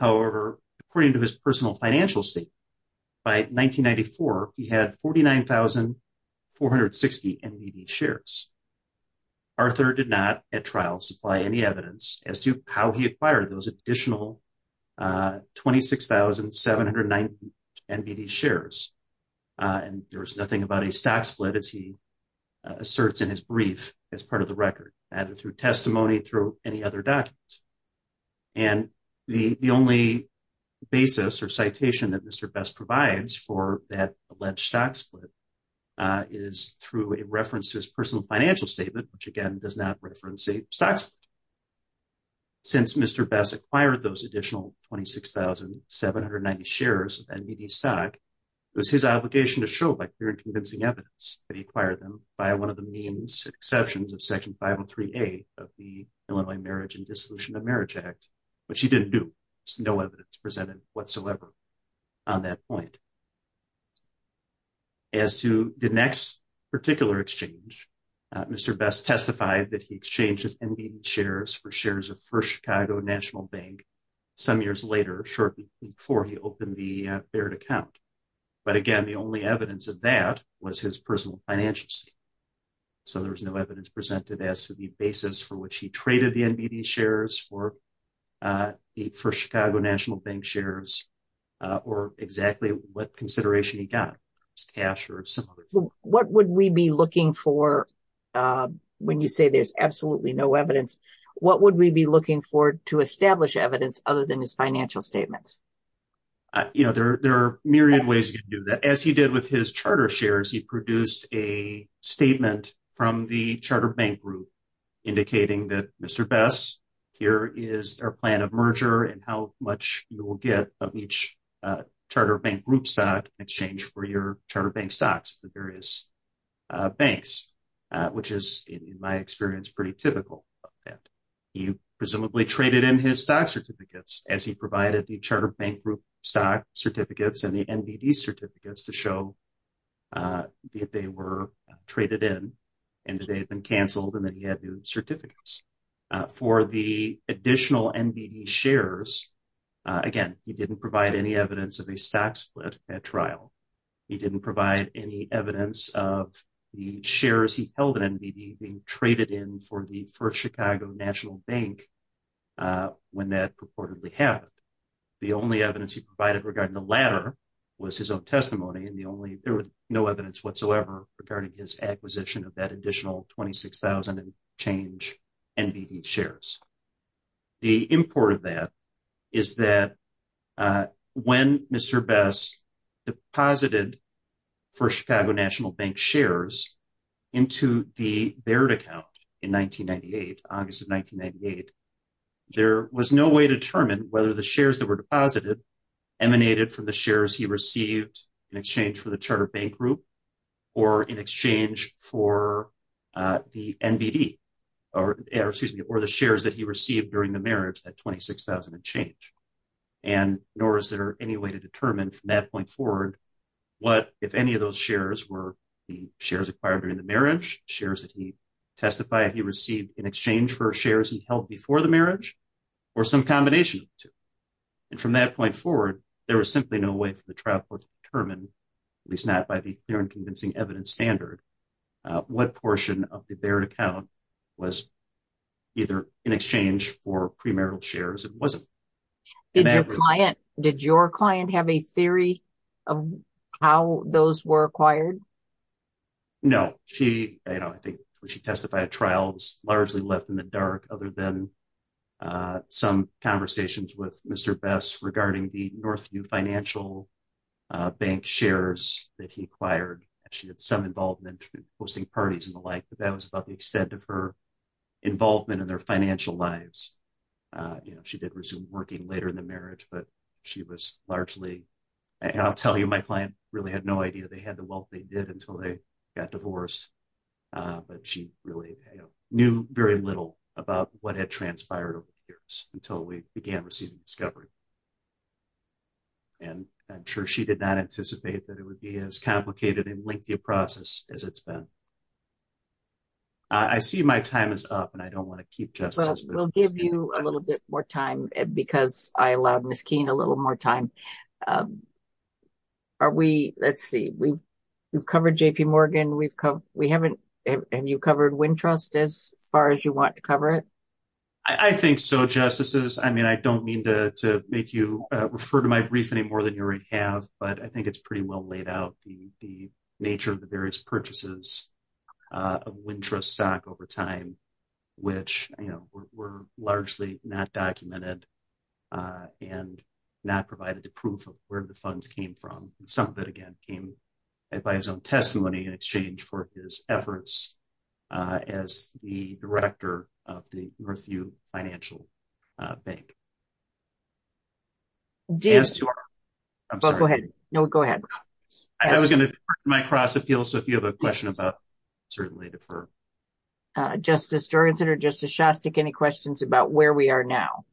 However, according to his personal financial state, by 1994, he had 49,460 NBB shares. Arthur did not, at trial, supply any evidence as to how he acquired those additional 26,790 NBB shares. There was nothing about a stock split, as he asserts in his brief, as part of the record. That is through testimony through any other documents. And the only basis or citation that Mr. Bess provides for that alleged stock split is through a reference to his personal financial statement, which, again, does not reference a stock split. Since Mr. Bess acquired those additional 26,790 shares of NBB stock, it was his obligation to show, by clear and convincing evidence, that he acquired them by one of the means and exceptions of Section 503A of the Illinois Marriage and Dissolution of Marriage Act, which he didn't do. No evidence presented whatsoever on that point. As to the next particular exchange, Mr. Bess testified that he exchanged his NBB shares for shares of First Chicago National Bank some years later, shortly before he opened the third account. But, again, the only evidence of that was his personal financial statement. So there was no evidence presented as to the basis for which he traded the NBB shares for First Chicago National Bank shares or exactly what consideration he got, cash or similar. What would we be looking for when you say there's absolutely no evidence? What would we be looking for to establish evidence other than his financial statements? There are a myriad of ways you can do that. As he did with his charter shares, he produced a statement from the charter bank group indicating that, Mr. Bess, here is our plan of merger and how much you will get from each charter bank group stock exchange for your charter bank stocks at the various banks, which is, in my experience, pretty typical. He presumably traded in his stock certificates as he provided the charter bank group stock certificates and the NBB certificates to show that they were traded in and that they had been canceled and that he had new certificates. For the additional NBB shares, again, he didn't provide any evidence of a stock split at trial. He didn't provide any evidence of the shares he held in NBB being traded in for the First Chicago National Bank when that purportedly happened. The only evidence he provided regarding the latter was his own testimony and there was no evidence whatsoever regarding his acquisition of that additional 26,000 exchange NBB shares. The import of that is that when Mr. Bess deposited First Chicago National Bank shares into the Baird account in August of 1998, there was no way to determine whether the shares that were deposited emanated from the shares he received in exchange for the charter bank group or in exchange for the NBB or the shares that he received during the marriage, that 26,000 exchange. Nor is there any way to determine from that point forward what if any of those shares were the shares acquired during the marriage, shares that he testified he received in exchange for shares he held before the marriage, or some combination of the two. From that point forward, there was simply no way for the trial court to determine, at least not by the clear and convincing evidence standard, what portion of the Baird account was either in exchange for premarital shares or wasn't. Did your client have a theory of how those were acquired? No. I think when she testified, the trial was largely left in the dark other than some conversations with Mr. Bess regarding the Northview Financial Bank shares that he acquired. She had some involvement in hosting parties and the like, but that was about the extent of her involvement in their financial lives. She did resume working later in the marriage, but she was largely, and I'll tell you my client really had no idea they had the wealth they did until they got divorced, but she really knew very little about what had transpired over the years until we began receiving discovery. And I'm sure she did not anticipate that it would be as complicated and lengthy a process as it's been. I see my time is up, and I don't want to keep justice. We'll give you a little bit more time because I allowed Ms. Keene a little more time. Let's see. We've covered J.P. Morgan. Have you covered Wintrust as far as you want to cover it? I think so, Justices. I don't mean to make you refer to my brief anymore than you already have, but I think it's pretty well laid out, the nature of the various purchases of Wintrust stock over time, which were largely not documented and not provided the proof of where the funds came from. Some of it, again, came by his own testimony in exchange for his efforts as the director of the Northview Financial Bank. Jim. Go ahead. No, go ahead. I was going to correct my cross-appeal, so if you have a question about certainly defer. Justice Dorenson or Justice Shostak, any questions about where we are now?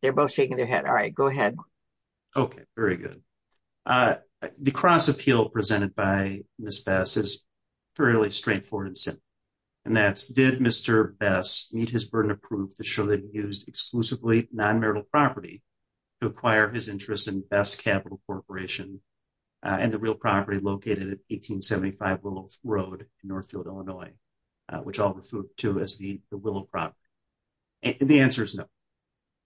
They're both shaking their head. All right. Go ahead. Okay, very good. The cross-appeal presented by Ms. Best is fairly straightforward and simple, and that's did Mr. Best need his burden of proof to show that he used exclusively non-marital property to acquire his interest in Best Capital Corporation and the real property located at 1875 Willow Road in Northfield, Illinois, which I'll refer to as the Willow property. The answer is no.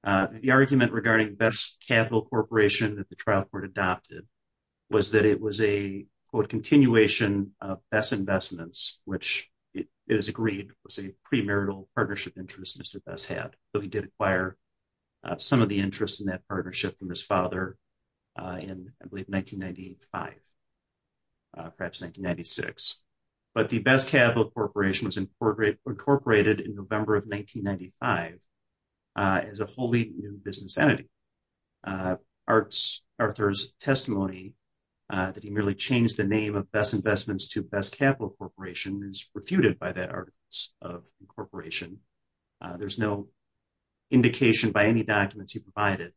The argument regarding Best Capital Corporation that the trial court adopted was that it was a, quote, continuation of Best Investments, which is agreed was a premarital partnership interest Mr. Best had, but he did acquire some of the interest in that partnership from his father in, I believe, 1995, perhaps 1996. But the Best Capital Corporation was incorporated in November of 1995 as a wholly new business entity. Arthur's testimony that he merely changed the name of Best Investments to Best Capital Corporation is refuted by that article of incorporation. There's no indication by any documents he provided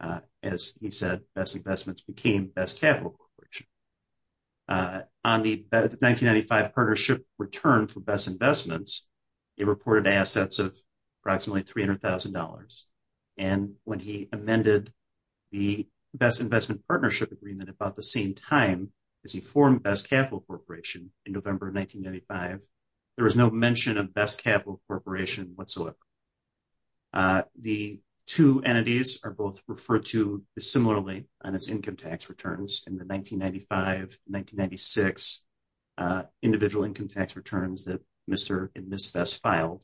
that, as he said, Best Investments became Best Capital Corporation. On the 1995 partnership return for Best Investments, it reported assets of approximately $300,000. And when he amended the Best Investment Partnership Agreement about the same time as he formed Best Capital Corporation in November of 1995, there was no mention of Best Capital Corporation whatsoever. The two entities are both referred to similarly on its income tax returns in 1995, 1996 individual income tax returns that Mr. and Ms. Best filed,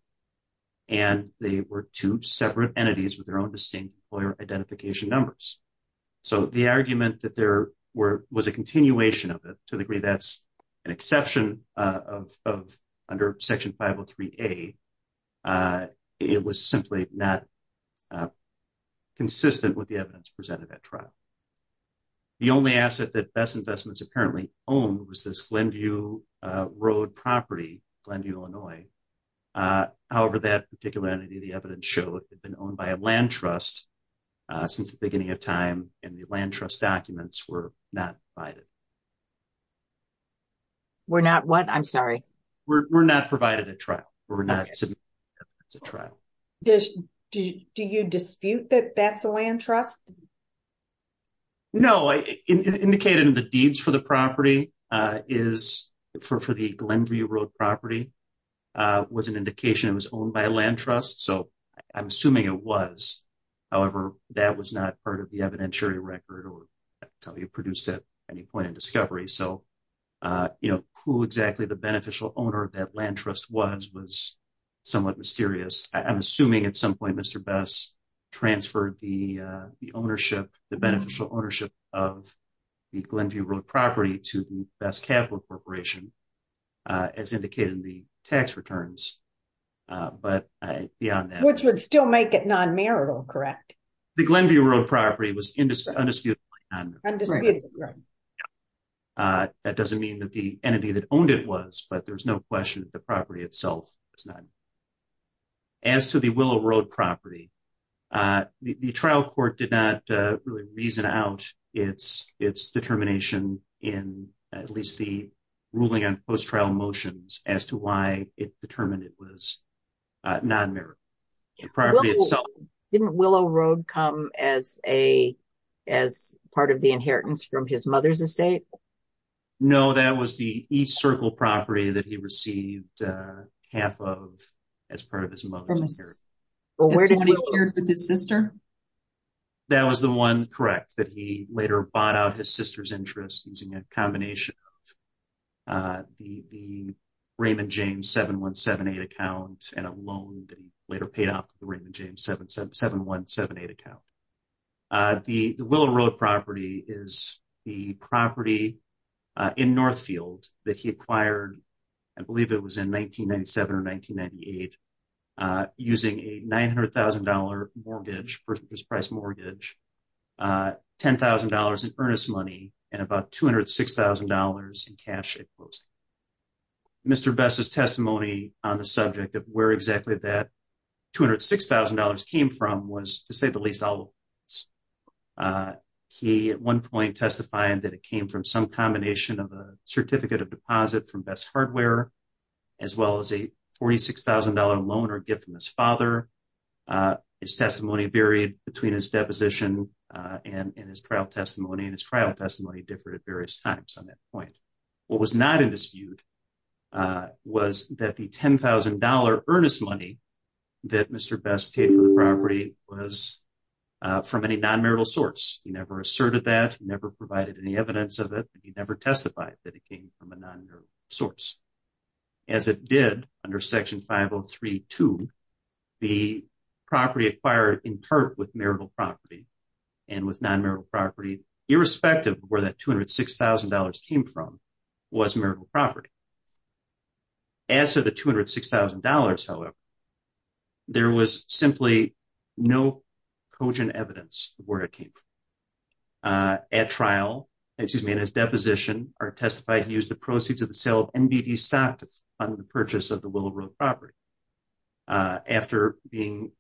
and they were two separate entities with their own distinct employer identification numbers. So the argument that there was a continuation of it, to the degree that's an exception of under Section 503A, it was simply not consistent with the evidence presented at trial. The only asset that Best Investments apparently owned was this Glenview Road property, Glenview, Illinois. However, that particular entity, the evidence shows, had been owned by a land trust since the beginning of time, and the land trust documents were not provided. We're not what? I'm sorry. We're not provided at trial. Do you dispute that that's a land trust? No. Indicated in the deeds for the property is for the Glenview Road property was an indication it was owned by a land trust. So I'm assuming it was. However, that was not part of the evidentiary record or produced at any point in discovery. So, you know, who exactly the beneficial owner of that land trust was, was somewhat mysterious. I'm assuming at some point Mr. Best transferred the ownership, the beneficial ownership of the Glenview Road property to the Best Capital Corporation, as indicated in the tax returns. But beyond that. Which would still make it non-marital, correct? The Glenview Road property was undisputed. Undisputed, right. That doesn't mean that the entity that owned it was, but there's no question that the property itself is not. As to the Willow Road property, the trial court did not really reason out its, its determination in at least the ruling on post-trial motions as to why it's determined it was non-marital. Didn't Willow Road come as a, as part of the inheritance from his mother's estate? No, that was the East Circle property that he received half of, as part of his mother's inheritance. But where did he share it with his sister? That was the one, correct. That he later bought out his sister's interest using a combination of the, the Raymond James 7178 accounts and a loan that he later paid off the Raymond James 7178 account. The Willow Road property is the property in Northfield that he acquired, I believe it was in 1997 or 1998, using a $900,000 mortgage for his price mortgage, $10,000 in earnest money and about $206,000 in cash. Mr. Best's testimony on the subject of where exactly that $206,000 came from was, to say the least, he at one point testified that it came from some combination of a certificate of deposit from Best Hardware, as well as a $46,000 loan or gift from his father. His testimony varied between his deposition and his trial testimony, and his trial testimony differed at various times on that point. What was not in dispute was that the $10,000 earnest money that Mr. Best paid for the property was from any non-marital source. He never asserted that, never provided any evidence of it. He never testified that it came from a non-marital source. As it did under Section 503.2, the property acquired in part with marital property and with non-marital property, irrespective of where that $206,000 came from, was marital property. As to the $206,000, however, there was simply no cogent evidence of where it came from. At trial, excuse me, in his deposition, Art testified he used the proceeds of the sale of MBD stock to fund the purchase of the Willow Road property. After being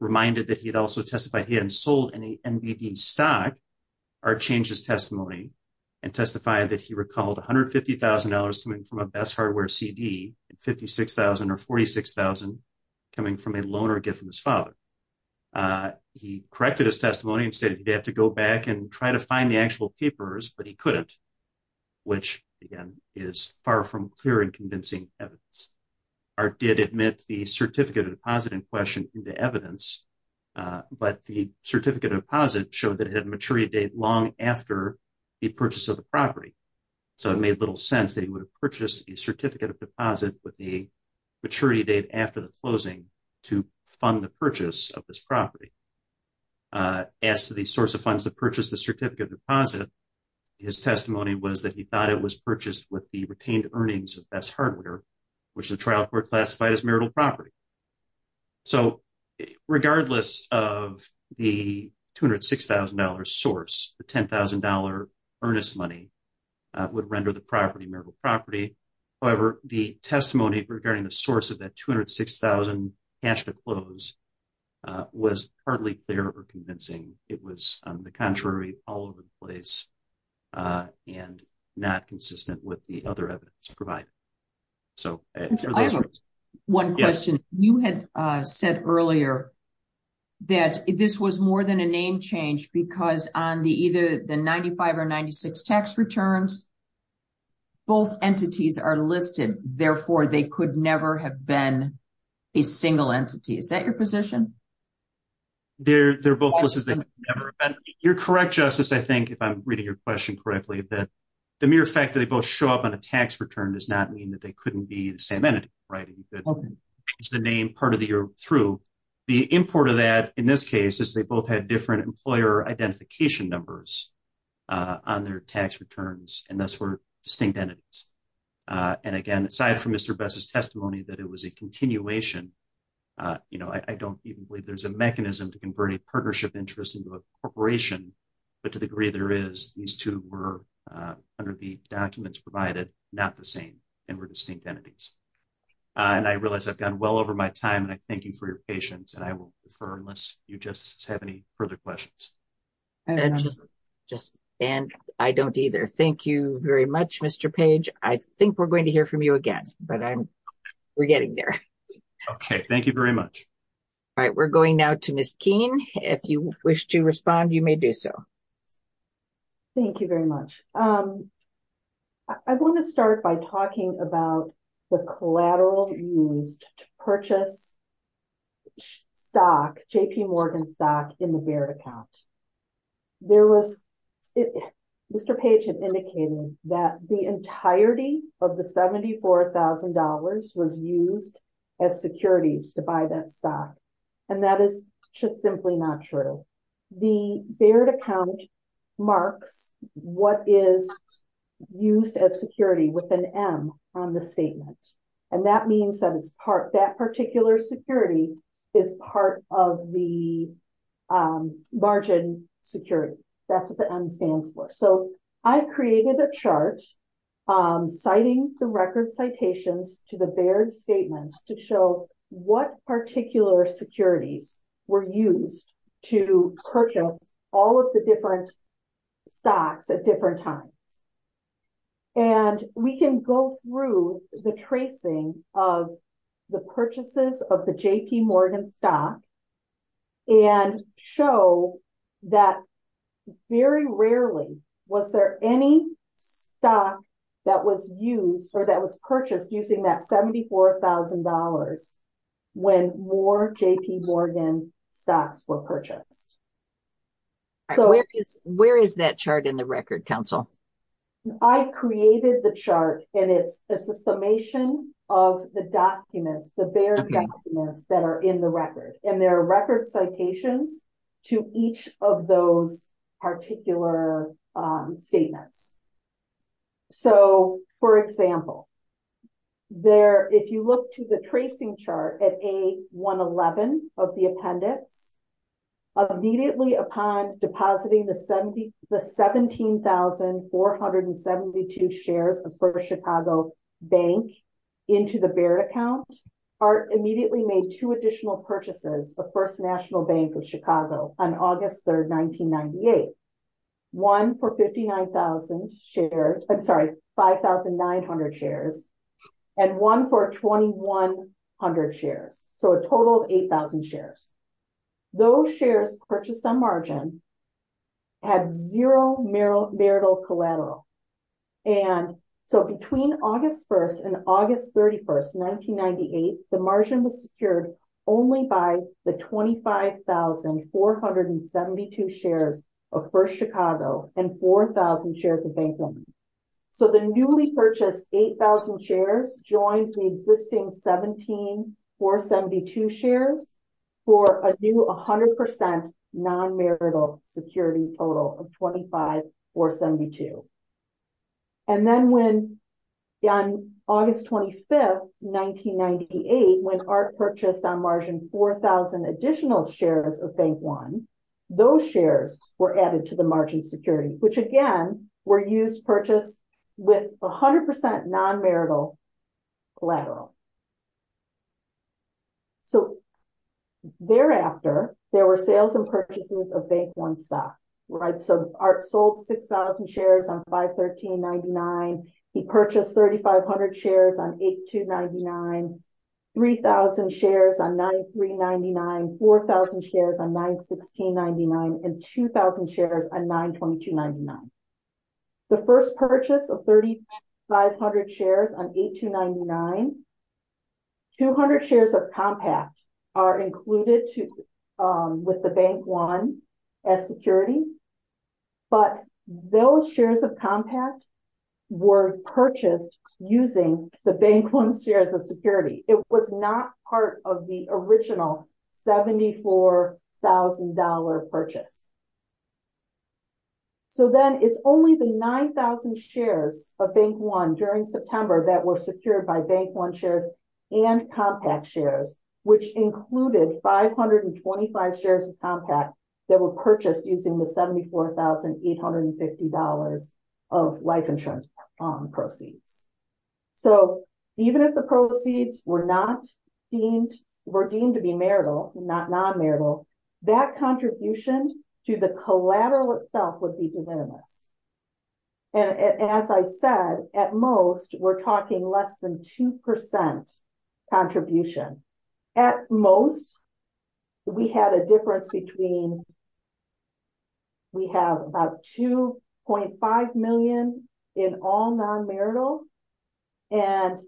reminded that he had also testified he hadn't sold any MBD stock, Art changed his testimony and testified that he recalled $150,000 coming from a Best Hardware CD, $56,000 or $46,000 coming from a loan or gift from his father. He corrected his testimony and said he'd have to go back and try to find the actual papers, but he couldn't, which again, is far from clear and convincing evidence. Art did admit the certificate of deposit in question into evidence, but the certificate of deposit showed that it had a maturity date long after the purchase of the property. So it made little sense that he would have purchased the certificate of deposit with the maturity date after the closing to fund the purchase of this property. As to the source of funds to purchase the certificate of deposit, his testimony was that he thought it was purchased with the retained earnings of Best Hardware, which the trial court classified as marital property. So regardless of the $206,000 source, the $10,000 earnest money would render the property marital property. However, the testimony regarding the source of that $206,000 cash to close was hardly clear or convincing. It was on the contrary, all over the place, and not consistent with the other evidence to provide. One question, you had said earlier that this was more than a name change because on the other hand, both entities are listed and therefore they could never have been a single entity. Is that your position? They're, they're both. You're correct. Justice. I think if I'm reading your question correctly, that the mere fact that they both show up on a tax return does not mean that they couldn't be the same entity. Right. It's the name part of the year through the import of that. In this case is they both had different employer identification numbers. On their tax returns. And that's where distinct entities. And again, aside from Mr. Best is testimony that it was a continuation. You know, I don't even believe there's a mechanism to convert a partnership interest into a corporation, but to the degree there is these two were under the documents provided, not the same. And we're distinct entities. And I realized I've done well over my time and I thank you for your patience. And I will defer unless you just have any further questions. And I don't either. Thank you very much, Mr. Page. I think we're going to hear from you again, but I'm. We're getting there. Okay. Thank you very much. All right. We're going now to Ms. Keene. If you wish to respond, you may do so. Thank you very much. I want to start by talking about the collateral. Purchase. So, if you look at the stock JPMorgan stock in the bear account. There was. Mr. Page indicated that the entirety of the $74,000 was used. As securities to buy that stock. And that is just simply not true. The beard account. Mark. What is. So, I created a chart. Use of security with an M on the statement. And that means that it's part that particular security. Is part of the. Margin security. That's what the M stands for. So I created a chart. Citing the record citations. To the bear statement to show what particular security. We're used. To purchase all of the different. Stocks at different times. And we can go through the tracing of. The purchases of the JP Morgan stock. And show that. Very rarely was there any. That was used for that was purchased using that $74,000. When more JP Morgan stocks were purchased. So, where is that chart in the record council? I created the chart and it's a summation of the documents. That are in the record and their record citations. To each of those particular statements. So, for example. There, if you look to the tracing chart at a 1, 11 of the appendix. Immediately upon depositing the 70, the 17,472 shares. Chicago bank. Into the bear account are immediately made 2 additional purchases. The 1st national bank of Chicago on August 3rd, 1998. 1 for 59,000 shares. I'm sorry. 5,900 shares. And 1 for 2100 shares. So, a total of 8,000 shares. Those shares purchase some margin. Have 0 Merrill. And so between August 1st and August 31st, 1998, the margin was secured. Only by the 25,472 shares. Of 1st, Chicago, and 4,000 shares of. So, the newly purchased 8,000 shares joins the existing 17. To share for a new 100% non marital security total of 25 or 72. And then when on August 25th, 1998, when our purchase on margin, 4,000 additional shares of bank 1. Those shares were added to the margin security, which again were used purchase. With 100% non marital collateral. So, thereafter, there were sales and purchases of bank 1 stuff. Right? So art sold 6,000 shares on 51399. He purchased 3500 shares on 8 to 99. 3000 shares on 9, 399, 4000 shares on 9, 1699 and 2000 shares on 9, 2299. The 1st purchase of 3500 shares on 8 to 99. 200 shares of compact are included to with the bank 1. As security, but those shares of compact. Were purchased using the bank 1 shares of security. It was not part of the original. 74,000 dollar purchase. So, then it's only the 9,000 shares of bank 1 during September that were secured by bank 1 shares. And compact shares, which included 525 shares of compact that were purchased using the 74,860 dollars. Of license proceeds, so. Even if the proceeds were not deemed were deemed to be marital, not non marital. That contribution to the collateral itself would be presented. And as I said, at most, we're talking less than 2%. Contribution at most. We had a difference between we have about 2.5Million in all non marital. And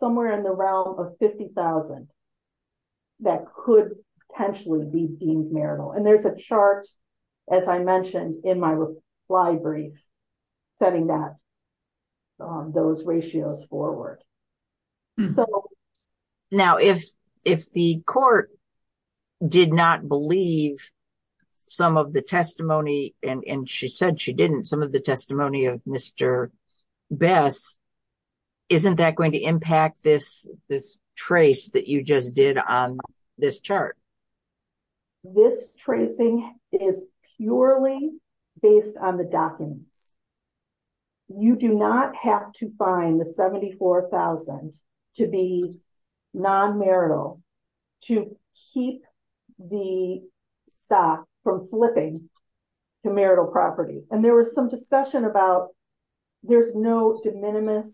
somewhere in the realm of 50,000. That could potentially be marital and there's a chart. As I mentioned in my library. Setting that those ratios forward. Now, if if the court. Did not believe some of the testimony and she said she didn't some of the testimony of Mr. Best, isn't that going to impact this this trace that you just did on this chart? This tracing is purely based on the document. You do not have to find the 74,000 to be. Non marital to keep the. Stop from flipping to marital property and there was some discussion about. There's no minimum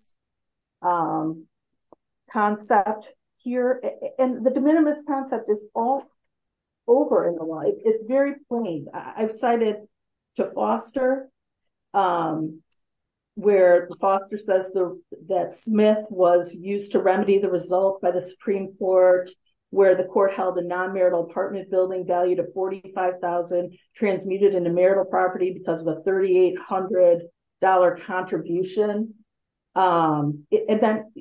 concept here and the minimum concept is all. Over in the light, it's very funny. I cited. To foster where the foster says that Smith was used to remedy the results by the Supreme Court. Where the court held a non marital apartment building value to 45,000 transmitted in the marital property because of the 3800 dollar contribution.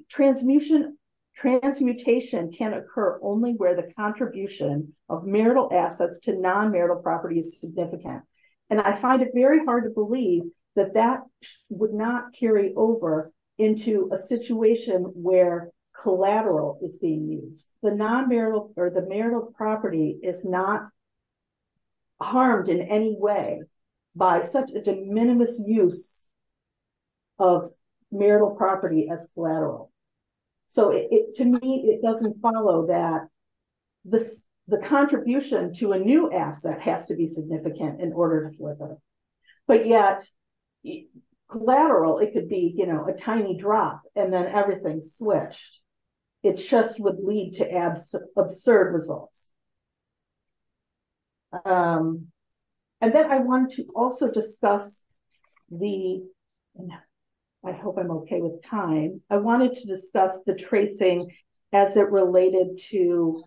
Transmission transmutation can occur only where the contribution of marital assets to non marital property is significant. And I find it very hard to believe that that would not carry over into a situation where collateral is being used. The non marital or the marital property is not harmed in any way. By such a de minimis use of. Marital property as collateral, so it to me, it doesn't follow that. The, the contribution to a new app that has to be significant in order. But, yeah, collateral, it could be a tiny drop and then everything switched. It just would lead to absurd results. And then I want to also discuss. The, I hope I'm okay with time. I wanted to discuss the tracing. As it related to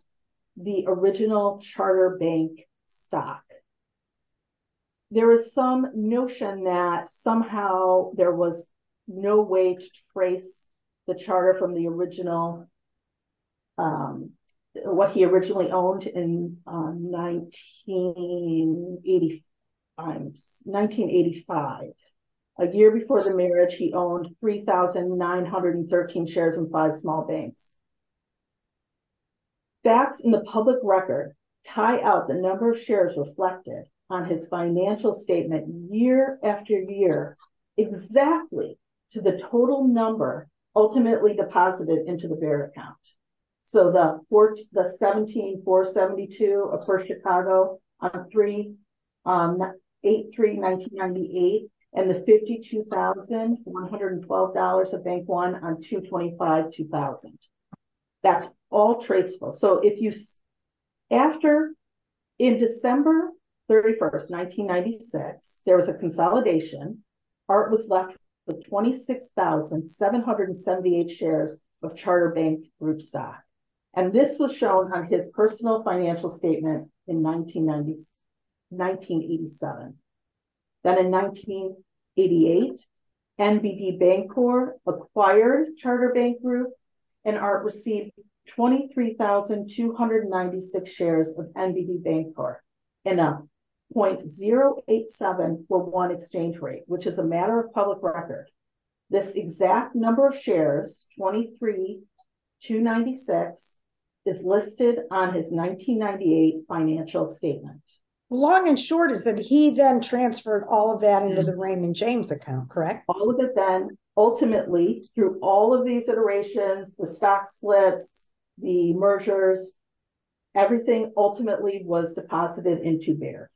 the original charter bank. There is some notion that somehow there was. No way to trace the charter from the original. What he originally owned in 1985. A year before the marriage, he owned 3913 shares and 5 small banks. Back in the public record, tie out the number of shares reflected on his financial statement year after year. Exactly to the total number ultimately deposited into the bear account. So, the, the 17472 of Chicago. 83998 and the 52112 dollars a bank 1 on 225. 2000. That's all traceable. So if you. After in December, 31st, 1996, there was a consolidation. Art was left with 26,778 shares of charter banks. And this was shown on his personal financial statement in 1990. 1987 that in 1988. And the bank or acquires charter bank group. And art received 23,296 shares of. And a 0.087 for 1 exchange rate, which is a matter of public record. This exact number of shares 23. 296 is listed on his 1998 financial statement. Long and short is that he then transferred all of them into the Raymond James account. Correct? All of it then ultimately through all of these iterations with stock splits. The mergers, everything ultimately was deposited into there.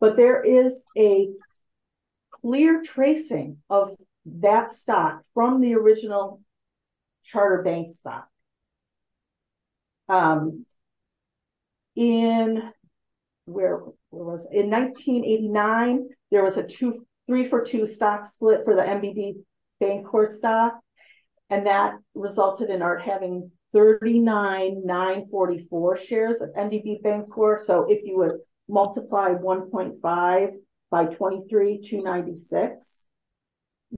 But there is a clear tracing of that stock from the original. Charter bank in. Where was in 1989? There was a 2, 3 for 2 stock split for the. Bank or stop and that resulted in our having 39, 944 shares of core. So, if you would multiply 1.5 by 23 to 96.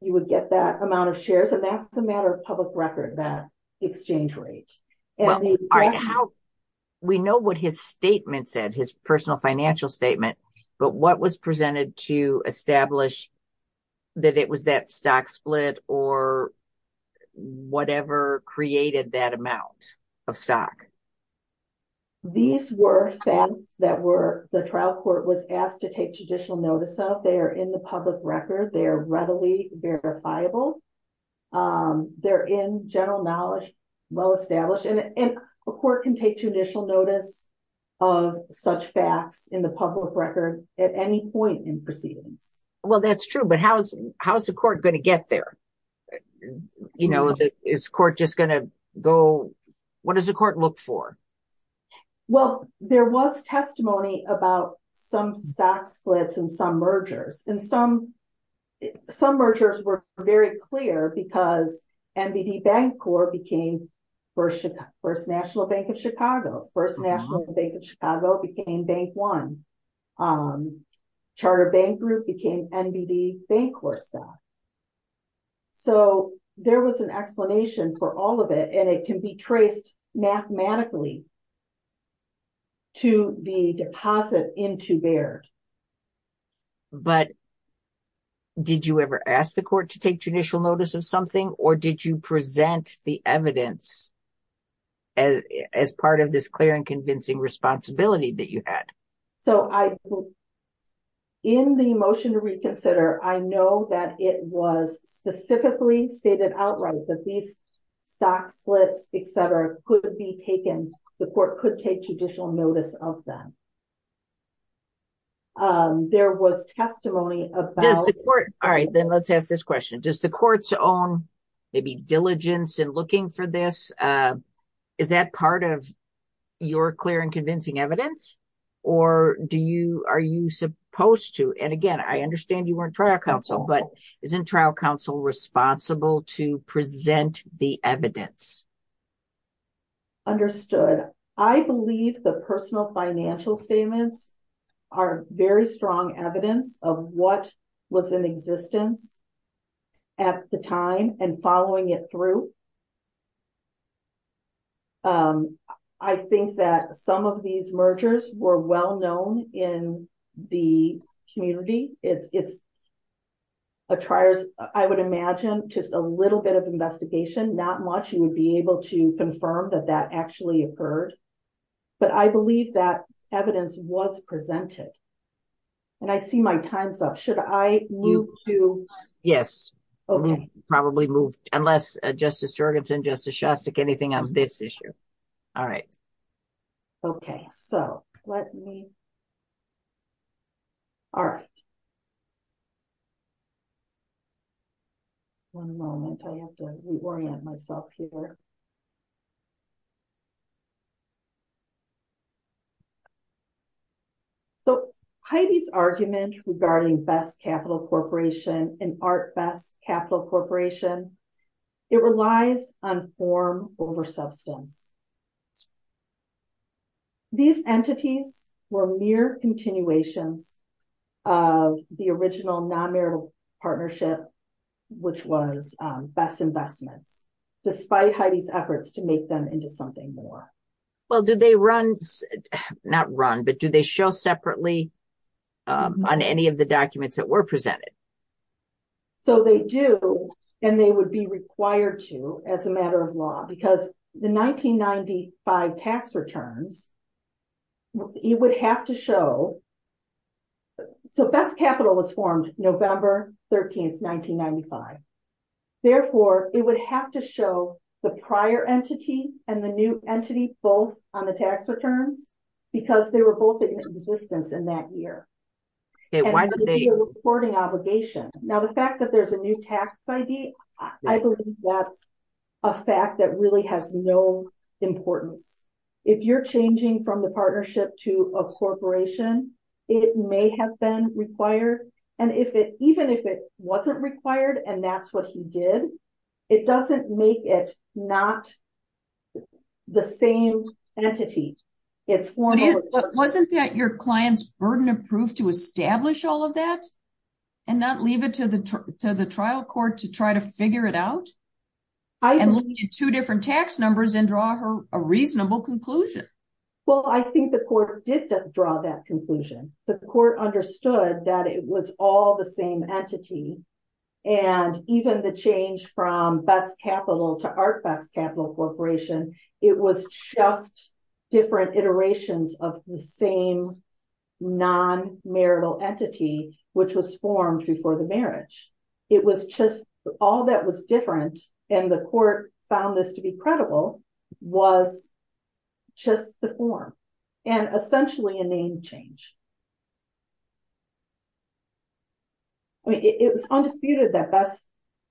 You would get that amount of shares and that's a matter of public record that exchange rate. We know what his statement said his personal financial statement, but what was presented to establish. That it was that stock split or whatever created that amount. These were that were the trial court was asked to take judicial notice of. They are in the public record. They're readily verifiable. They're in general knowledge, well, establishing a court can take judicial notice. Of such facts in the public record at any point in proceeding. Well, that's true, but how's how's the court going to get there? You know, is court just going to go. What does the court look for? Well, there was testimony about. Some back splits and some mergers and some. Some mergers were very clear because. And the bank core became 1st, 1st, National Bank of Chicago 1st, National Bank of Chicago became bank 1. Charter bank group became NBD bank. So, there was an explanation for all of it and it can be traced mathematically. To the deposit into there. But did you ever ask the court to take judicial notice of something or did you present the evidence? As as part of this clear and convincing responsibility that you had. So, I, in the motion to reconsider, I know that it was specifically stated outright that these. Stock splits, et cetera could be taken. The court could take judicial notice of them. There was testimony about the court. All right, then let's have this question. Just the courts on. Maybe diligence and looking for this. Is that part of your clear and convincing evidence? Or do you, are you supposed to and again, I understand you weren't trial counsel, but isn't trial counsel responsible to present the evidence. Understood I believe the personal financial statements. Are very strong evidence of what. What's in existence at the time and following it through. I think that some of these mergers were well known in the community. It's. I would imagine just a little bit of investigation. Not much. You would be able to confirm that that actually occurred. But I believe that evidence was presented. And I see my time's up. Should I move to? Yes. Okay, probably move unless justice and justice anything on this issue. All right. Okay. So, let me. All right. 1 moment, I have to reorient myself here. So, Heidi's argument regarding best capital corporation and art best capital corporation. It relies on form over substance. These entities were mere continuation. Of the original nonmarital partnership. Which was best investment. Despite Heidi's efforts to make them into something more. Well, did they run not run, but do they show separately. On any of the documents that were presented, so they do, and they would be required to as a matter of law, because the 1995 tax returns. You would have to show. So, best capital was formed November 13th, 1995. Therefore, it would have to show the prior entity and the new entity both on the tax return. Because they were both in existence in that year. It was a sporting obligation. Now, the fact that there's a new tax ID, I believe that. A fact that really has no important. If you're changing from the partnership to a corporation. It may have been required and if it even if it wasn't required, and that's what he did. It doesn't make it not the same entity. It wasn't that your client's burden of proof to establish all of that. And not leave it to the to the trial court to try to figure it out. I'm looking at 2 different tax numbers and draw her a reasonable conclusion. Well, I think the court did draw that conclusion, but the court understood that it was all the same entity. And even the change from capital to our capital corporation, it was just. Different iterations of the same. Non marital entity, which was formed before the marriage. It was just all that was different and the court found this to be credible was. Just the form and essentially a name change. It was undisputed that that's.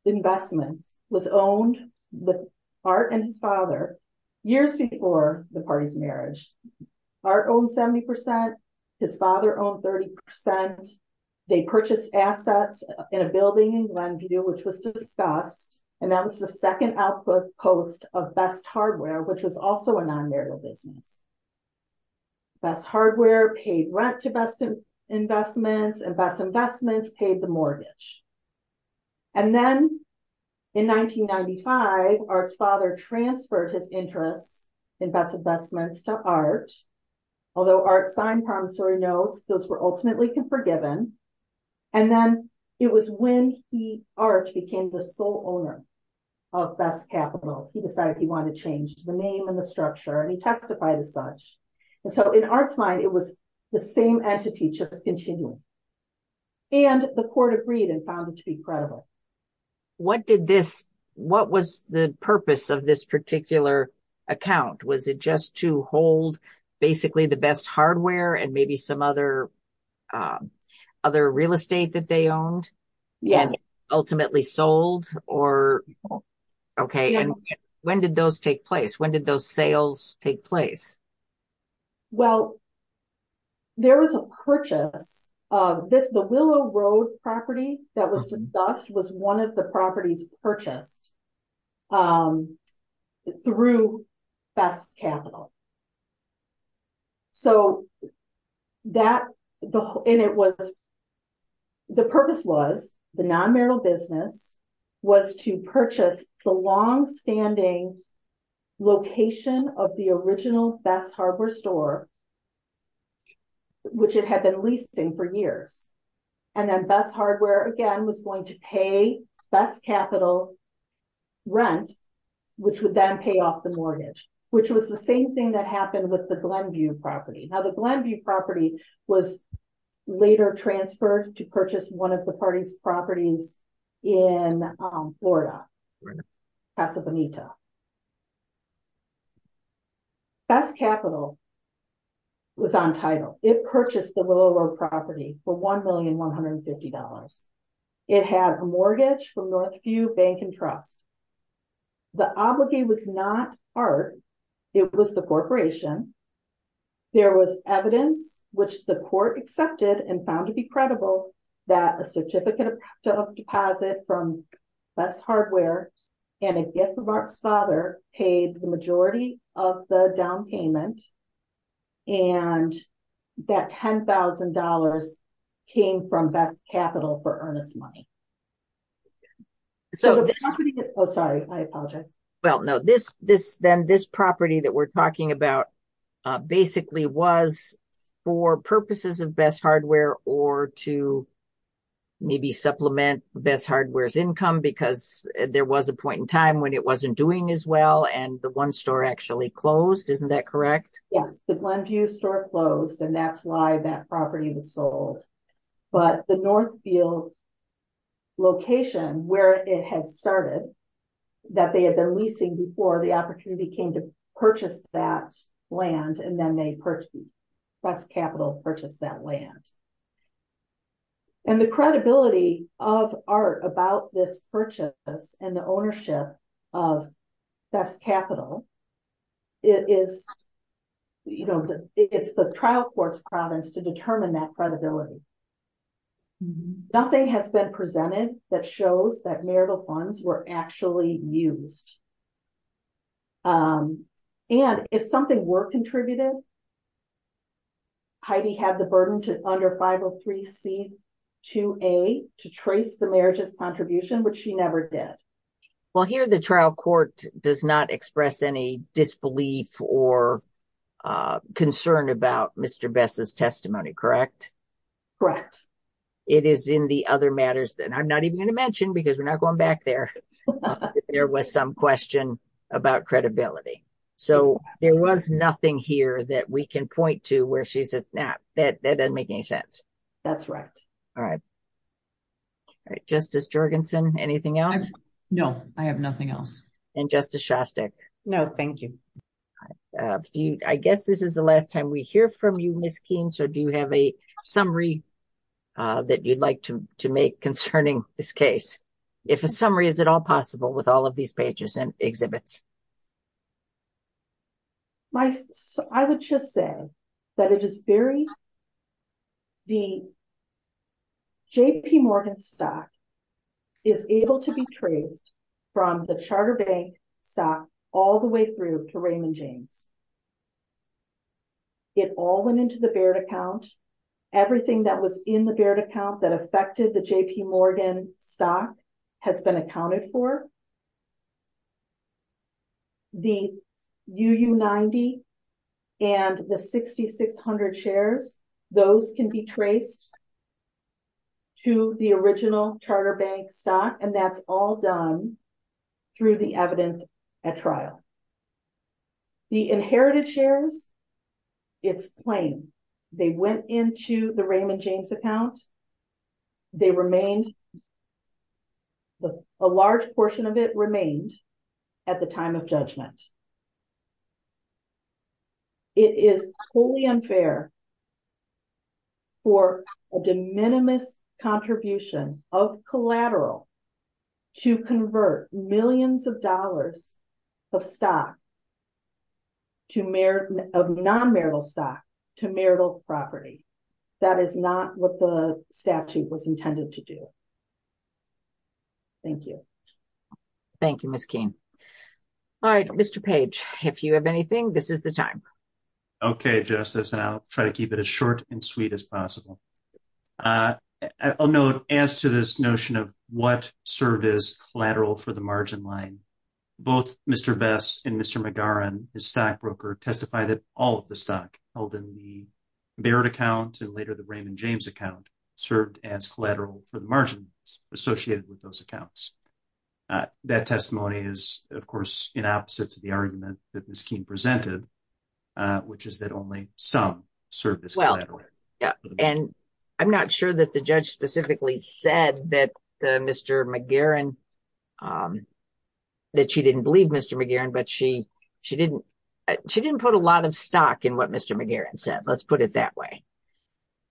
Investment was owned with art and father. Years before the party's marriage, our own 70%. His father owned 30% they purchased assets in a building when to do with. And that was the 2nd output post of best hardware, which was also a non marital business. That's hardware paid rent to best. Investments and investments paid the mortgage. And then in 1995, our father transferred his interest. Investments to art, although our sign promissory notes, those were ultimately forgiven. And then it was when he arch became the sole owner. Of that capital, he decided he wanted to change the name and the structure and he testified as such. So, in our client, it was the same entity to continue. And the court agreed and found it to be credible. What did this, what was the purpose of this particular account? Was it just to hold basically the best hardware and maybe some other. Other real estate that they owned. Yeah, ultimately sold or. Okay, and when did those take place? When did those sales take place? Well, there was a purchase. The willow road property that was discussed was 1 of the properties purchase. Through that capital. So, that and it was. The purpose was the non business. Was to purchase the long standing. Location of the original best hardware store. Which it had been leasing for years. And then best hardware again, was going to pay capital. Rent, which would then pay off the mortgage, which was the same thing that happened with the property. Now, the property was. Later transferred to purchase 1 of the parties properties. In Florida. That's capital. Was on title it purchased the property for 1,000,000, 150 dollars. It has a mortgage from the few bank and trust. The obligate was not art. It was the corporation there was evidence. Which the court accepted and found to be credible that a certificate of deposit from. That's hardware and a gift of art father paid the majority of the down payment. And that 10,000 dollars. Came from that capital for earnest money. So, sorry, I apologize. Well, no, this this, then this property that we're talking about. Basically was for purposes of best hardware or to. Maybe supplement best hardware's income, because there was a point in time when it wasn't doing as well. And the 1 store actually closed. Isn't that correct? Yeah, the 1 view store closed and that's why that property was sold. But the North field location where it had started. That they had been leasing before the opportunity came to purchase that land and then they purchased. Capital purchase that land, and the credibility of art about this purchase and the ownership of. That's capital is. You know, it's the trial court province to determine that credibility. Nothing has been presented that shows that marital funds were actually used. And if something were contributed. Heidi had the burden to under 503 C. To a, to trace the marriage of contribution, which she never did. Well, here the trial court does not express any disbelief or. Concerned about Mr. bestest testimony. Correct. It is in the other matters that I'm not even going to mention, because we're not going back there. There was some question. About credibility, so there was nothing here that we can point to where she says that that doesn't make any sense. That's right. All right. Justice Jorgensen, anything else? No, I have nothing else and justice. No, thank you. I guess this is the last time we hear from you. So do you have a summary. That you'd like to to make concerning this case. If a summary, is it all possible with all of these pages and exhibits. My, I would just say that it is very. The JP Morgan stock. Is able to be traced from the charter bank. That all the way through to Raymond James, it all went into the bear account. Everything that was in the bear account that affected the JP Morgan stock has been accounted for. The 90 and the 6600 shares. Those can be traced to the original charter bank dot and that's all done. Through the evidence at trial, the inherited shares. It's plain, they went into the Raymond James account. They remained a large portion of it remained. At the time of judgment, it is fully unfair. For a de minimis contribution of collateral. To convert millions of dollars. Of stock to merit of non marital stock to marital property. That is not what the statute was intended to do. Thank you. Thank you. All right. Mr. page. If you have anything, this is the time. Okay, justice now, try to keep it as short and sweet as possible. I'll note as to this notion of what service collateral for the margin line. Both Mr. best and Mr. and his stock broker testified that all of the stock held in the. Barrett account, and later the Raymond James account served as collateral for the margin associated with those accounts. That testimony is, of course, in opposite to the argument that this team presented. Which is that only some service. Yeah, and I'm not sure that the judge specifically said that Mr. McGarren. That she didn't believe Mr. McGarren, but she, she didn't. She didn't put a lot of stock in what Mr. McGarren said. Let's put it that way.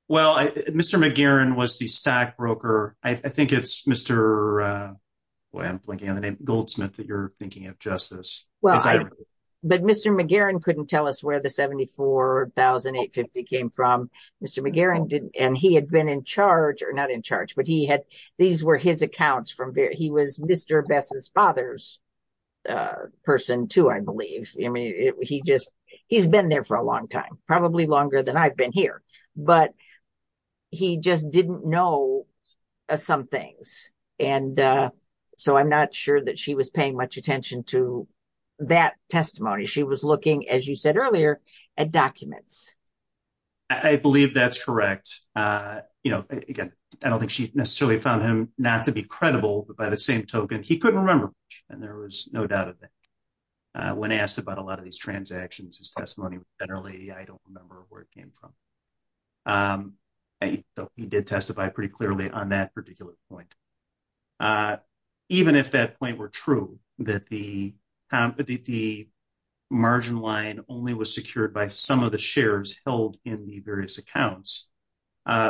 Well, Mr. McGarren was the stack broker. I think it's Mr. Goldsmith that you're thinking of justice. Well, but Mr. McGarren couldn't tell us where the 74850 came from. Mr. McGarren didn't and he had been in charge or not in charge, but he had these were his accounts from there. He was Mr. Beth's father's. Person to, I believe he just he's been there for a long time, probably longer than I've been here, but. He just didn't know some things and. So, I'm not sure that she was paying much attention to that testimony. She was looking, as you said earlier, a document. I believe that's correct. You know, I don't think she necessarily found him not to be credible, but by the same token, he couldn't remember and there was no doubt of that. When asked about a lot of these transactions testimony, generally, I don't remember where it came from. He did testify pretty clearly on that particular point. Even if that point were true that the. Margin line only was secured by some of the shares held in the various accounts.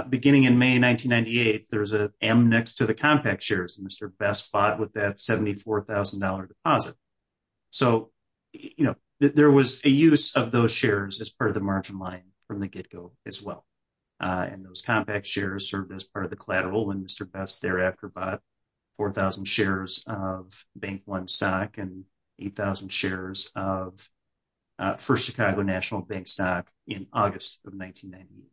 Beginning in May 1998, there was a next to the compact shares and Mr. best spot with that 74,000 dollar deposit. So, you know, there was a use of those shares as part of the margin line from the get go as well. And those compact shares served as part of the collateral and Mr. best thereafter, but 4,000 shares of bank 1 stock and 8,000 shares of. 1st, Chicago national bank stock in August of 1990.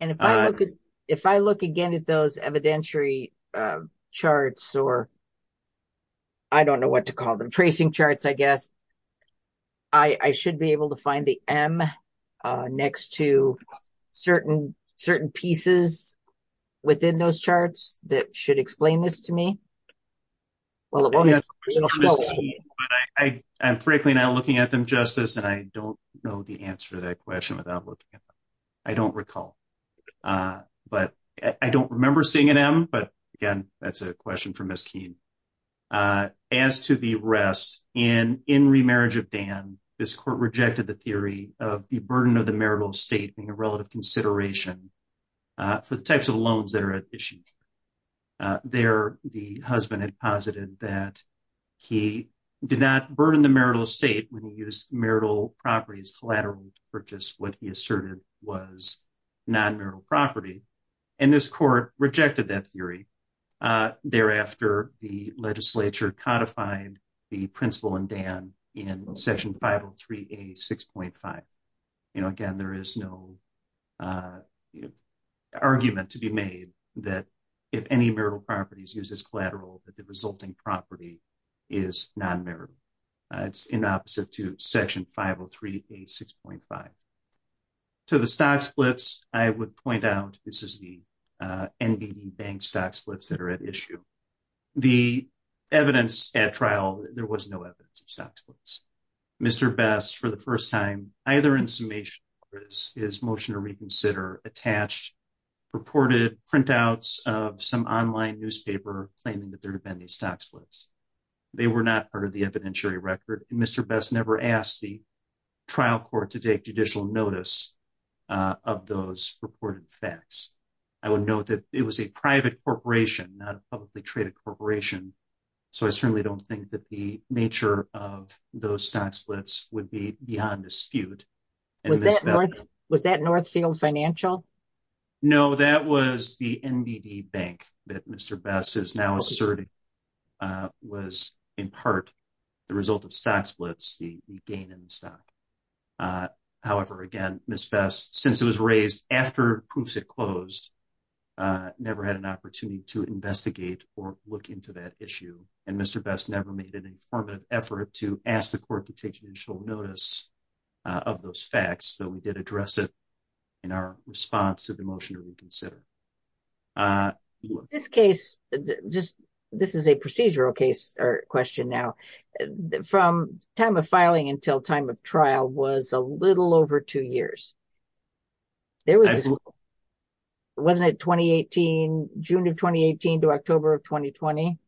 And if I look at if I look again at those evidentiary charts, or. I don't know what to call them tracing charts. I guess. I, I should be able to find the M next to. Certain certain pieces within those charts that should explain this to me. Well, I'm frankly now looking at them justice and I don't know the answer to that question without looking at. I don't recall, but I don't remember seeing an M, but again, that's a question for Miss keen. As to the rest and in remarriage of Dan, this court rejected the theory of the burden of the marital state and relative consideration. The types of loans that are at issue there. The husband had posited that. He did not burden the marital state when you use marital properties collateral purchase. What he asserted was. Non property, and this court rejected that theory. Thereafter, the legislature codified. The principal and Dan in session 503, a 6.5. You know, again, there is no argument to be made that. If any marital properties uses collateral, but the resulting property. Is not in there in opposite to section 503, a 6.5. So, the stock splits, I would point out this is the bank stocks splits that are at issue. The evidence at trial, there was no evidence of. Mr. best for the 1st time, either in summation is motion to reconsider attached. Reported printouts of some online newspaper claiming that there have been these. They were not part of the evidentiary record. Mr. best never asked the. Trial court to take judicial notice of those reported facts. I would note that it was a private corporation, not a publicly traded corporation. So, I certainly don't think that the nature of those stocks splits would be beyond dispute. And was that Northfield financial. No, that was the bank that Mr. best is now asserting. Was in part the result of stocks, let's see, we gain in stock. However, again, since it was raised after proofs at close. Never had an opportunity to investigate or look into that issue and Mr. best never made an effort to ask the court to take initial notice. Of those facts, so we did address it in our response to the motion to reconsider. This case, just. This is a procedural case or question now from time of filing until time of trial was a little over 2 years. Wasn't it 2018, June of 2018 to October of 2020.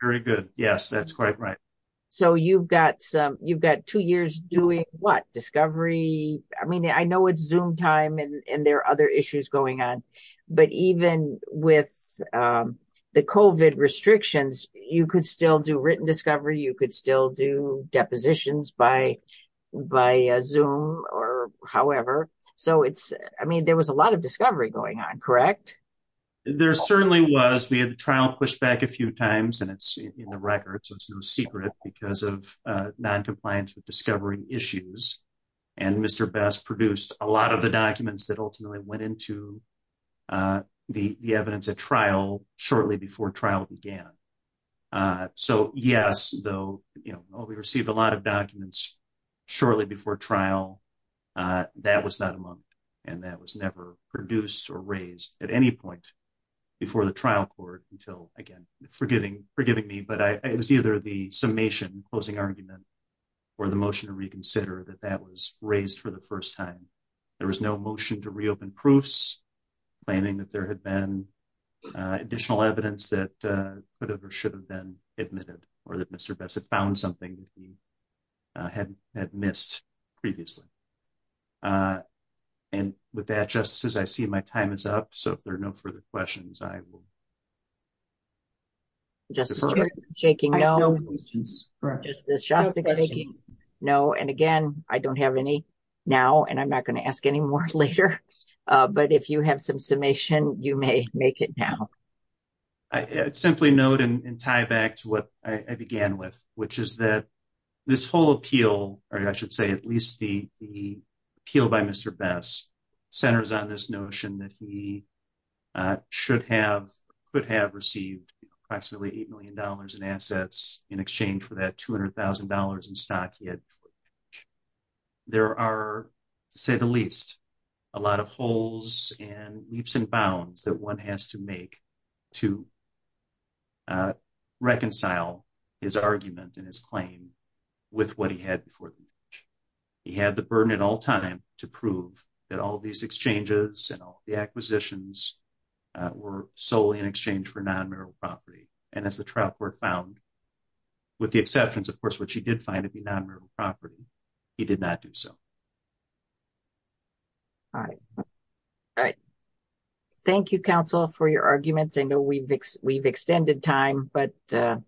Very good. Yes, that's quite right. So you've got some, you've got 2 years doing what discovery. I mean, I know it's zoom time and there are other issues going on, but even with the cobit restrictions, you could still do written discovery. You could still do depositions by by zoom or however. So it's, I mean, there was a lot of discovery going on. Correct. There certainly was, we had the trial push back a few times and it's in the records. It's no secret because of non compliance with discovery issues. And Mr best produced a lot of the documents that ultimately went into. The evidence at trial shortly before trial began. So, yes, though, you know, we received a lot of documents. Shortly before trial, that was not among and that was never produced or raised at any point. Before the trial court until again, forgiving, forgiving me, but I, it was either the summation closing argument. For the motion to reconsider that that was raised for the 1st time. There was no motion to reopen proofs planning that there had been. Additional evidence that should have been admitted or that Mr. best had found something. Had had missed previously. And with that, just as I see my time is up, so there are no further questions, I will. Just shaking. No, no. And again, I don't have any. Now, and I'm not going to ask any more later, but if you have some summation, you may make it now. I simply note and tie back to what I began with, which is that. This whole appeal, or I should say, at least the, the. Appeal by Mr. best centers on this notion that he. Should have could have received approximately 8M dollars in assets in exchange for that 200,000 dollars in stock. There are, say, the least. A lot of holes and leaps and bounds that 1 has to make. To reconcile his argument and his claim. With what he had before he had the burden at all time to prove that all these exchanges and all the acquisitions. Were solely in exchange for non property and as the trap were found. With the exceptions, of course, which he did find at the property. He did not do so. All right. All right, thank you counsel for your arguments and we've, we've extended time, but a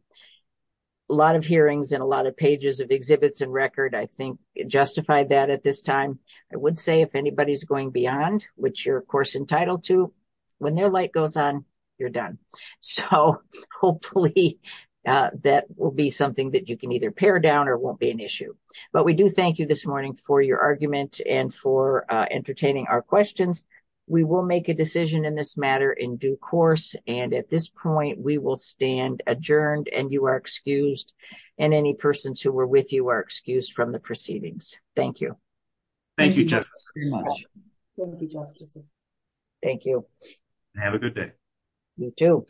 lot of hearings and a lot of pages of exhibits and record. I think justify that at this time. I would say, if anybody's going beyond, which you're, of course, entitled to when their light goes on, you're done. So hopefully that will be something that you can either pare down or won't be an issue. But we do thank you this morning for your argument and for entertaining our questions. We will make a decision in this matter in due course. And at this point, we will stand adjourned and you are excused. And any persons who were with you are excused from the proceedings. Thank you. Thank you very much. Thank you. Thank you. Have a good day.